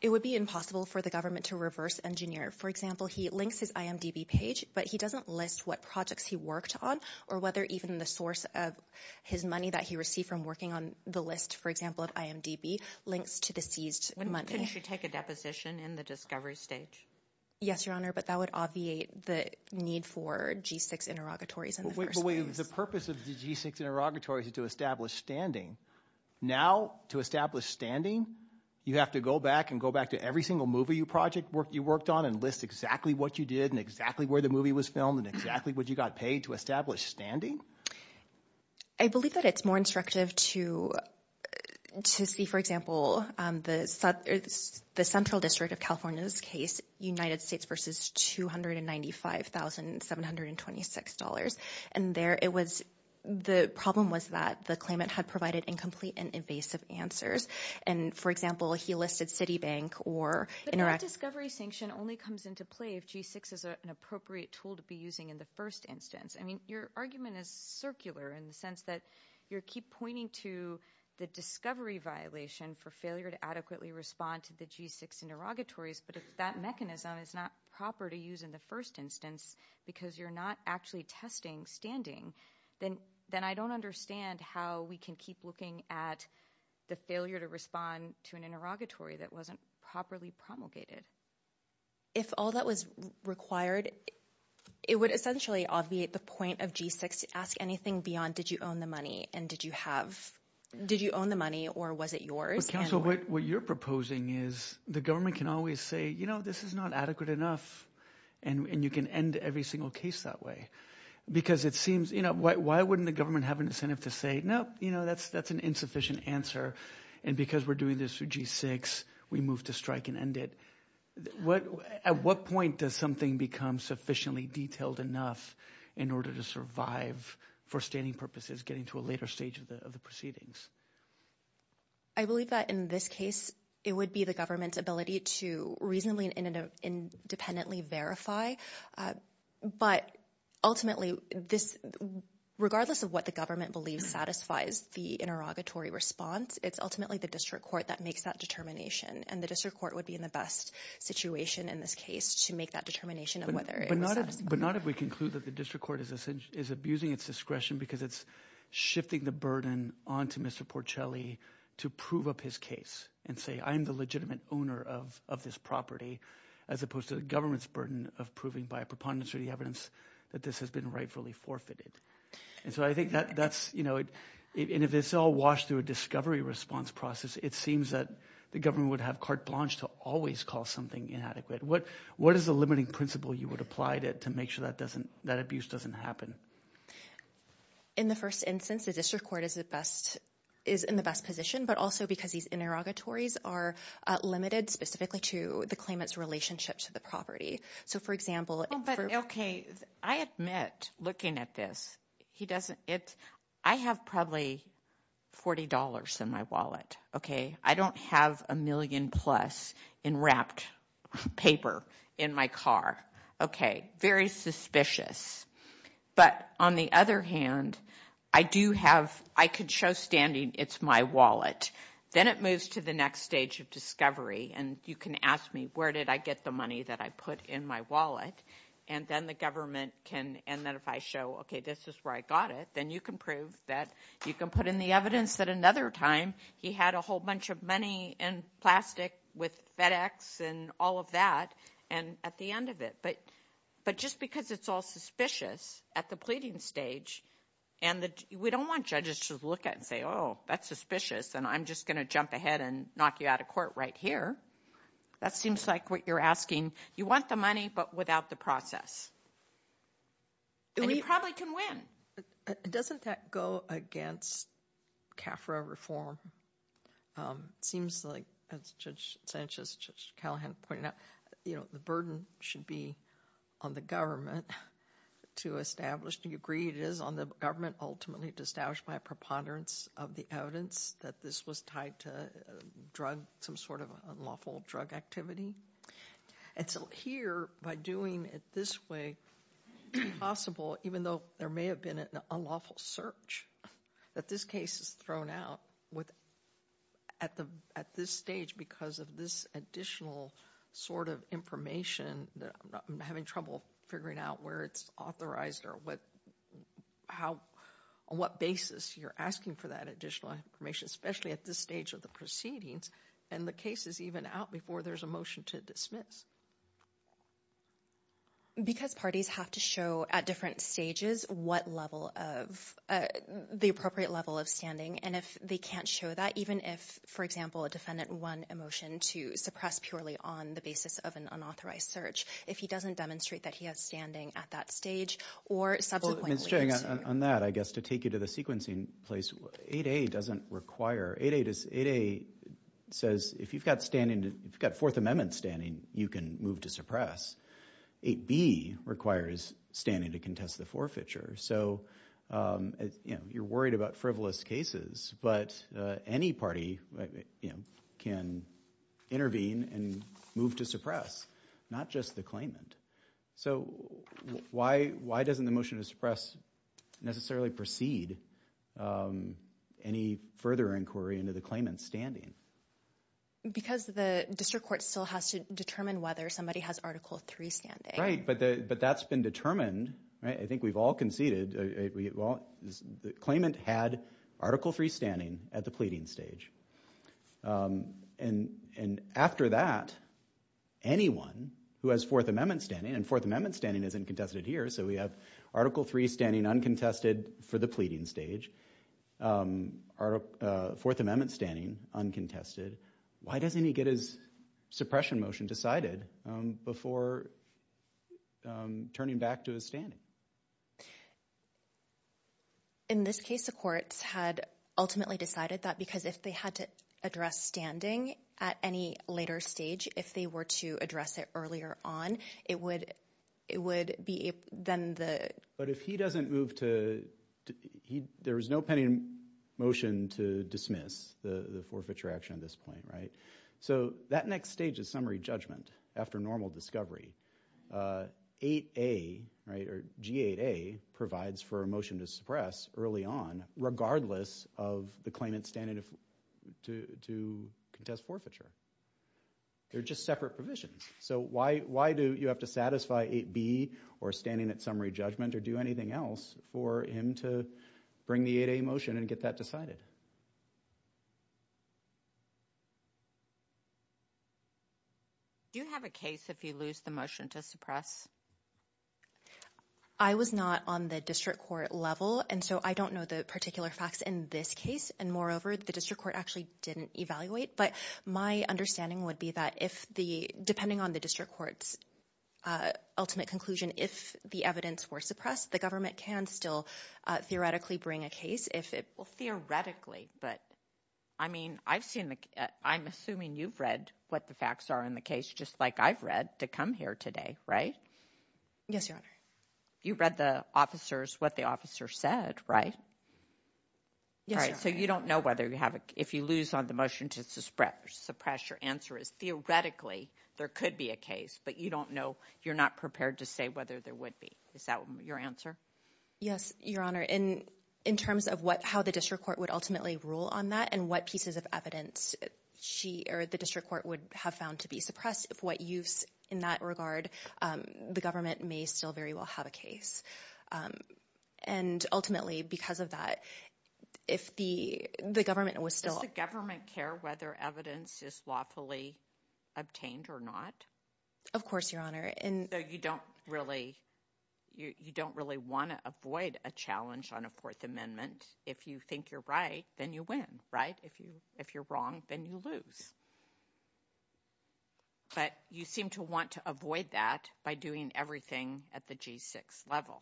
It would be impossible for the government to reverse engineer. For example, he links his IMDB page, but he doesn't list what projects he worked on or whether even the source of his money that he received from working on the list, for example of IMDB, links to the seized money. Couldn't you take a deposition in the discovery stage? Yes, Your Honor, but that would obviate the need for G6 interrogatories in the first place. The purpose of the G6 interrogatories is to establish standing Now, to establish standing you have to go back and go back to every single movie you worked on and list exactly what you did and exactly where the movie was filmed and exactly what you got paid to establish standing? I believe that it's more instructive to see, for example, the central district of California's case, United States versus $295,726 and there it was the problem was that the claimant had provided incomplete and invasive answers and, for example, he listed Citibank or Interact But that discovery sanction only comes into play if G6 is an appropriate tool to be using in the first instance. I mean, your argument is circular in the sense that you keep pointing to the discovery violation for failure to adequately respond to the G6 interrogatories but if that mechanism is not proper to use in the first instance because you're not actually testing standing, then I don't understand how we can keep looking at the failure to respond to an interrogatory that wasn't properly promulgated If all that was required it would essentially obviate the point of G6 to ask anything beyond, did you own the money? Did you own the money or was it yours? What you're proposing is the government can always say, you know, this is not adequate enough and you can end every single case that way because it seems, you know, why wouldn't the government have an incentive to say, no, you know, that's an insufficient answer and because we're doing this through G6, we move to strike and end it. At what point does something become sufficiently detailed enough in order to survive for standing purposes, getting to a later stage of the proceedings? I believe that in this case, it would be the government's ability to reasonably independently verify but ultimately this, regardless of what the government believes satisfies the interrogatory response, it's ultimately the district court that makes that determination and the district court would be in the best situation in this case to make that determination of whether it was satisfied. But not if we conclude that the district court is abusing its discretion because it's shifting the burden onto Mr. Porcelli to prove up his case and say, I'm the legitimate owner of this property as opposed to the government's burden of proving by a preponderance of the evidence that this has been rightfully forfeited. And so I think that's, you know, and if it's all washed through a discovery response process, it seems that the government would have carte blanche to always call something inadequate. What is the limiting principle you would apply to make sure that abuse doesn't happen? In the first instance, the district court is the best, is in the best position but also because these interrogatories are limited specifically to the claimant's relationship to the property. So for example, Okay, I admit looking at this, he doesn't, I have probably $40 in my wallet. Okay, I don't have a million plus in wrapped paper in my car. Okay, very suspicious. But on the other hand, I do have, I could show standing, it's my wallet. Then it moves to the next stage of discovery and you can ask me, where did I get the money that I put in my wallet? And then the government can, and then if I show okay, this is where I got it, then you can prove that you can put in the evidence that another time he had a whole bunch of money in plastic with FedEx and all of that and at the end of it. But just because it's all suspicious at the pleading stage and we don't want judges to look at it and say, oh, that's suspicious and I'm just going to jump ahead and knock you out of court right here. That seems like what you're asking. You want the money but without the process. And you probably can win. Doesn't that go against CAFRA reform? It seems like, as Judge Sanchez, Judge Callahan pointed out, the burden should be on the government to establish, do you agree it is on the government ultimately to establish by preponderance of the evidence that this was tied to drug, some sort of unlawful drug activity? And so here by doing it this way it's impossible, even though there may have been an unlawful search, that this case is thrown out at this stage because of this additional sort of information that I'm having trouble figuring out where it's authorized or what basis you're asking for that additional information, especially at this stage of the proceedings and the case is even out before there's a motion to dismiss. Because parties have to show at different stages what level of the appropriate level of standing and if they can't show that, even if for example a defendant won a motion to suppress purely on the basis of an unauthorized search, if he doesn't demonstrate that he has standing at that stage or subsequently... On that, I guess to take you to the sequencing place, 8A doesn't require 8A says if you've got and if you've got Fourth Amendment standing you can move to suppress. 8B requires standing to contest the forfeiture, so you're worried about frivolous cases, but any party can intervene and move to suppress, not just the claimant. Why doesn't the motion to suppress necessarily proceed any further inquiry into the claimant's standing? Because the district court still has to determine whether somebody has Article 3 standing. Right, but that's been determined I think we've all conceded the claimant had Article 3 standing at the pleading stage. And after that anyone who has Fourth Amendment standing, and Fourth Amendment standing isn't contested here, so we have Article 3 standing uncontested for the pleading stage. Article Fourth Amendment standing uncontested. Why doesn't he get his suppression motion decided before turning back to his standing? In this case the courts had ultimately decided that because if they had to address standing at any later stage, if they were to address it earlier on, it would be then the... But if he doesn't move to... There was no pending motion to dismiss the forfeiture action at this point, right? So that next stage is summary judgment after normal discovery. 8A, right, or G8A provides for a motion to suppress early on regardless of the claimant's standing to contest forfeiture. They're just separate provisions. So why do you have to satisfy 8B or standing at summary judgment or do anything else for him to bring the 8A motion and get that decided? Do you have a case if you lose the motion to suppress? I was not on the district court level, and so I don't know the particular facts in this case. And moreover, the district court actually didn't evaluate. But my understanding would be that if the... Depending on the district court's ultimate conclusion, if the evidence were suppressed, the government can still theoretically bring a case if it... Well, theoretically, but I mean, I've seen the... I'm assuming you've read what the facts are in the case just like I've read to come here today, right? Yes, Your Honor. You read the officer's... What the officer said, right? Yes, Your Honor. So you don't know whether you have a... If you lose on the motion to suppress, your answer is theoretically there could be a case, but you don't know. You're not prepared to say whether there would be. Is that your answer? Yes, Your Honor. In terms of how the district court would ultimately rule on that and what pieces of evidence the district court would have found to be suppressed, what use in that regard, the government may still very well have a case. And ultimately, because of that, if the government was still... Does the government care whether evidence is lawfully obtained or not? Of course, Your Honor. So you don't really want to avoid a challenge on a Fourth Amendment. If you think you're right, then you win, right? If you're wrong, then you lose. But you seem to want to avoid that by doing everything at the G6 level.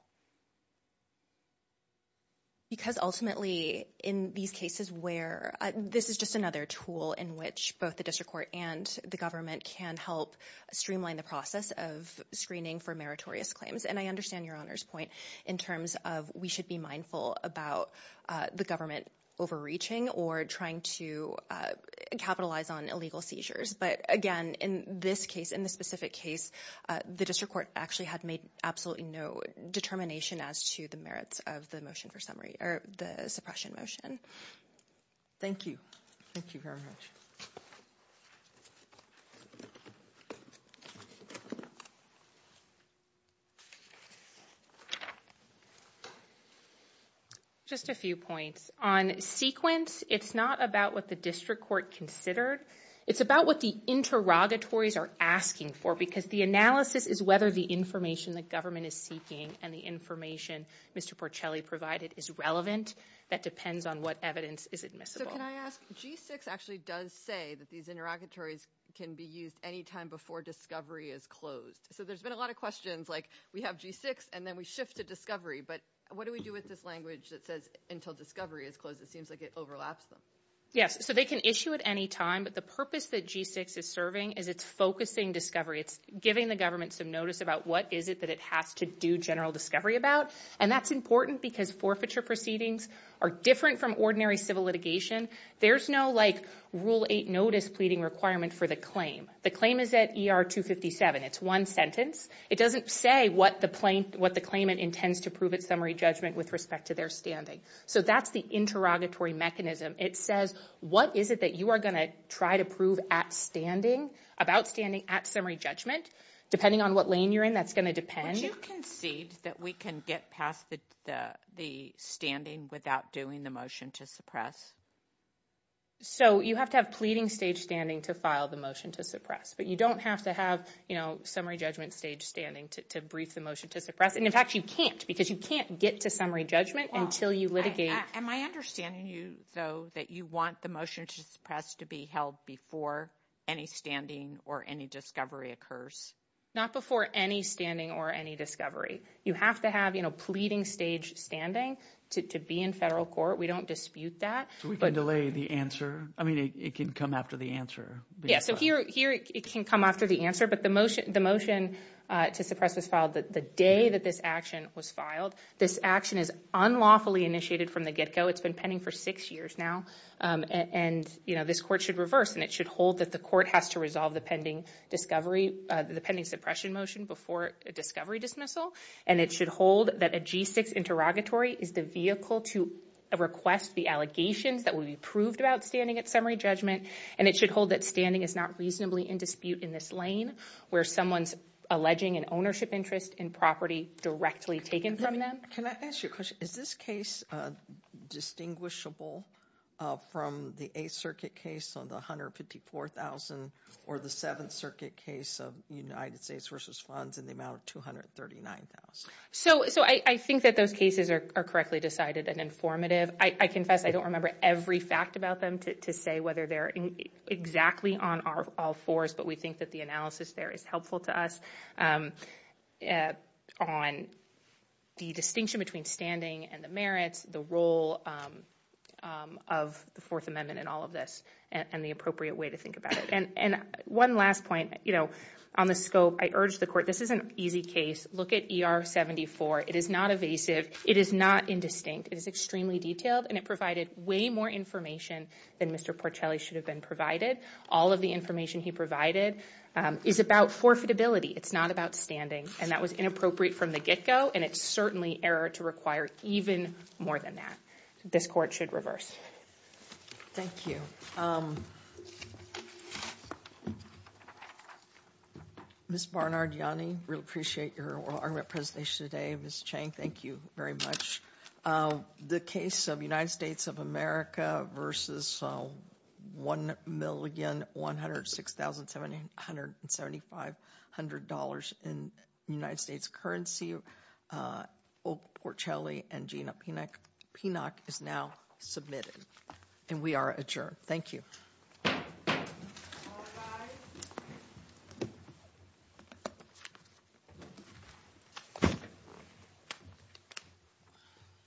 Because ultimately, in these cases where... This is just another tool in which both the district court and the government can help streamline the process of screening for meritorious claims. And I understand Your Honor's point in terms of we should be mindful about the government overreaching or trying to capitalize on illegal seizures. But again, in this case, in this specific case, the district court actually had made absolutely no determination as to the merits of the motion for summary or the suppression motion. Thank you. Thank you very much. Just a few points. On sequence, it's not about what the district court considered. It's about what the interrogatories are asking for because the analysis is whether the information the government is seeking and the information Mr. Porcelli provided is relevant. That depends on what evidence is admissible. So can I ask, G6 actually does say that these interrogatories can be used anytime before discovery is closed. So there's been a lot of questions like, we have G6 and then we shift to discovery, but what do we do with this language that says until discovery is closed? It seems like it overlaps them. Yes, so they can issue it anytime, but the purpose that G6 is serving is it's focusing discovery. It's giving the government some notice about what is it that it has to do general discovery about, and that's important because forfeiture proceedings are different from ordinary civil litigation. There's no rule 8 notice pleading requirement for the claim. The claim is at ER 257. It's one sentence. It doesn't say what the claimant intends to prove at summary judgment with respect to their standing. So that's the interrogatory mechanism. It says, what is it that you are going to try to prove about standing at summary judgment? Depending on what lane you're in, that's going to depend. Would you concede that we can get past the standing without doing the motion to suppress? So you have to have pleading stage standing to file the motion to suppress, but you don't have to have summary judgment stage standing to brief the motion to suppress. In fact, you can't because you can't get to summary judgment until you litigate. Am I understanding you, though, that you want the motion to suppress to be held before any standing or any discovery occurs? Not before any standing or any discovery. You have to have pleading stage standing to be in federal court. We don't dispute that. So we can delay the answer? I mean, it can come after the answer. Yeah, so here it can come after the answer, but the motion to suppress was filed the day that this action was filed. This action is unlawfully initiated from the get-go. It's been pending for six years now, and this court should reverse and it should hold that the court has to resolve the pending suppression motion before a discovery dismissal, and it should hold that a G6 interrogatory is the vehicle to request the allegations that will be proved about standing at summary judgment, and it should hold that standing is not reasonably in dispute in this lane where someone's alleging an ownership interest in property directly taken from them. Can I ask you a question? Is this case distinguishable from the Eighth Circuit case on the $254,000 or the Seventh Circuit case of United States v. Funds in the amount of $239,000? So I think that those cases are correctly decided and informative. I confess I don't remember every fact about them to say whether they're exactly on all fours, but we think that the analysis there is helpful to us on the distinction between standing and the merits, the role of the Fourth Amendment and all of this, and the appropriate way to think about it. And one last point, you know, on the scope, I urge the Court, this is an easy case. Look at ER 74. It is not evasive. It is not indistinct. It is extremely detailed, and it provided way more information than Mr. Porcelli should have been provided. All of the information he provided is about forfeitability. It's not about standing, and that was inappropriate from the get-go, and it's certainly error to require even more than that. This Court should reverse. Thank you. Ms. Barnard-Yanni, we appreciate your oral argument presentation today. Ms. Chang, thank you very much. The case of United States of America versus $1,106,775 in United States currency, Oak Porcelli and Pinoch is now submitted, and we are adjourned. Thank you.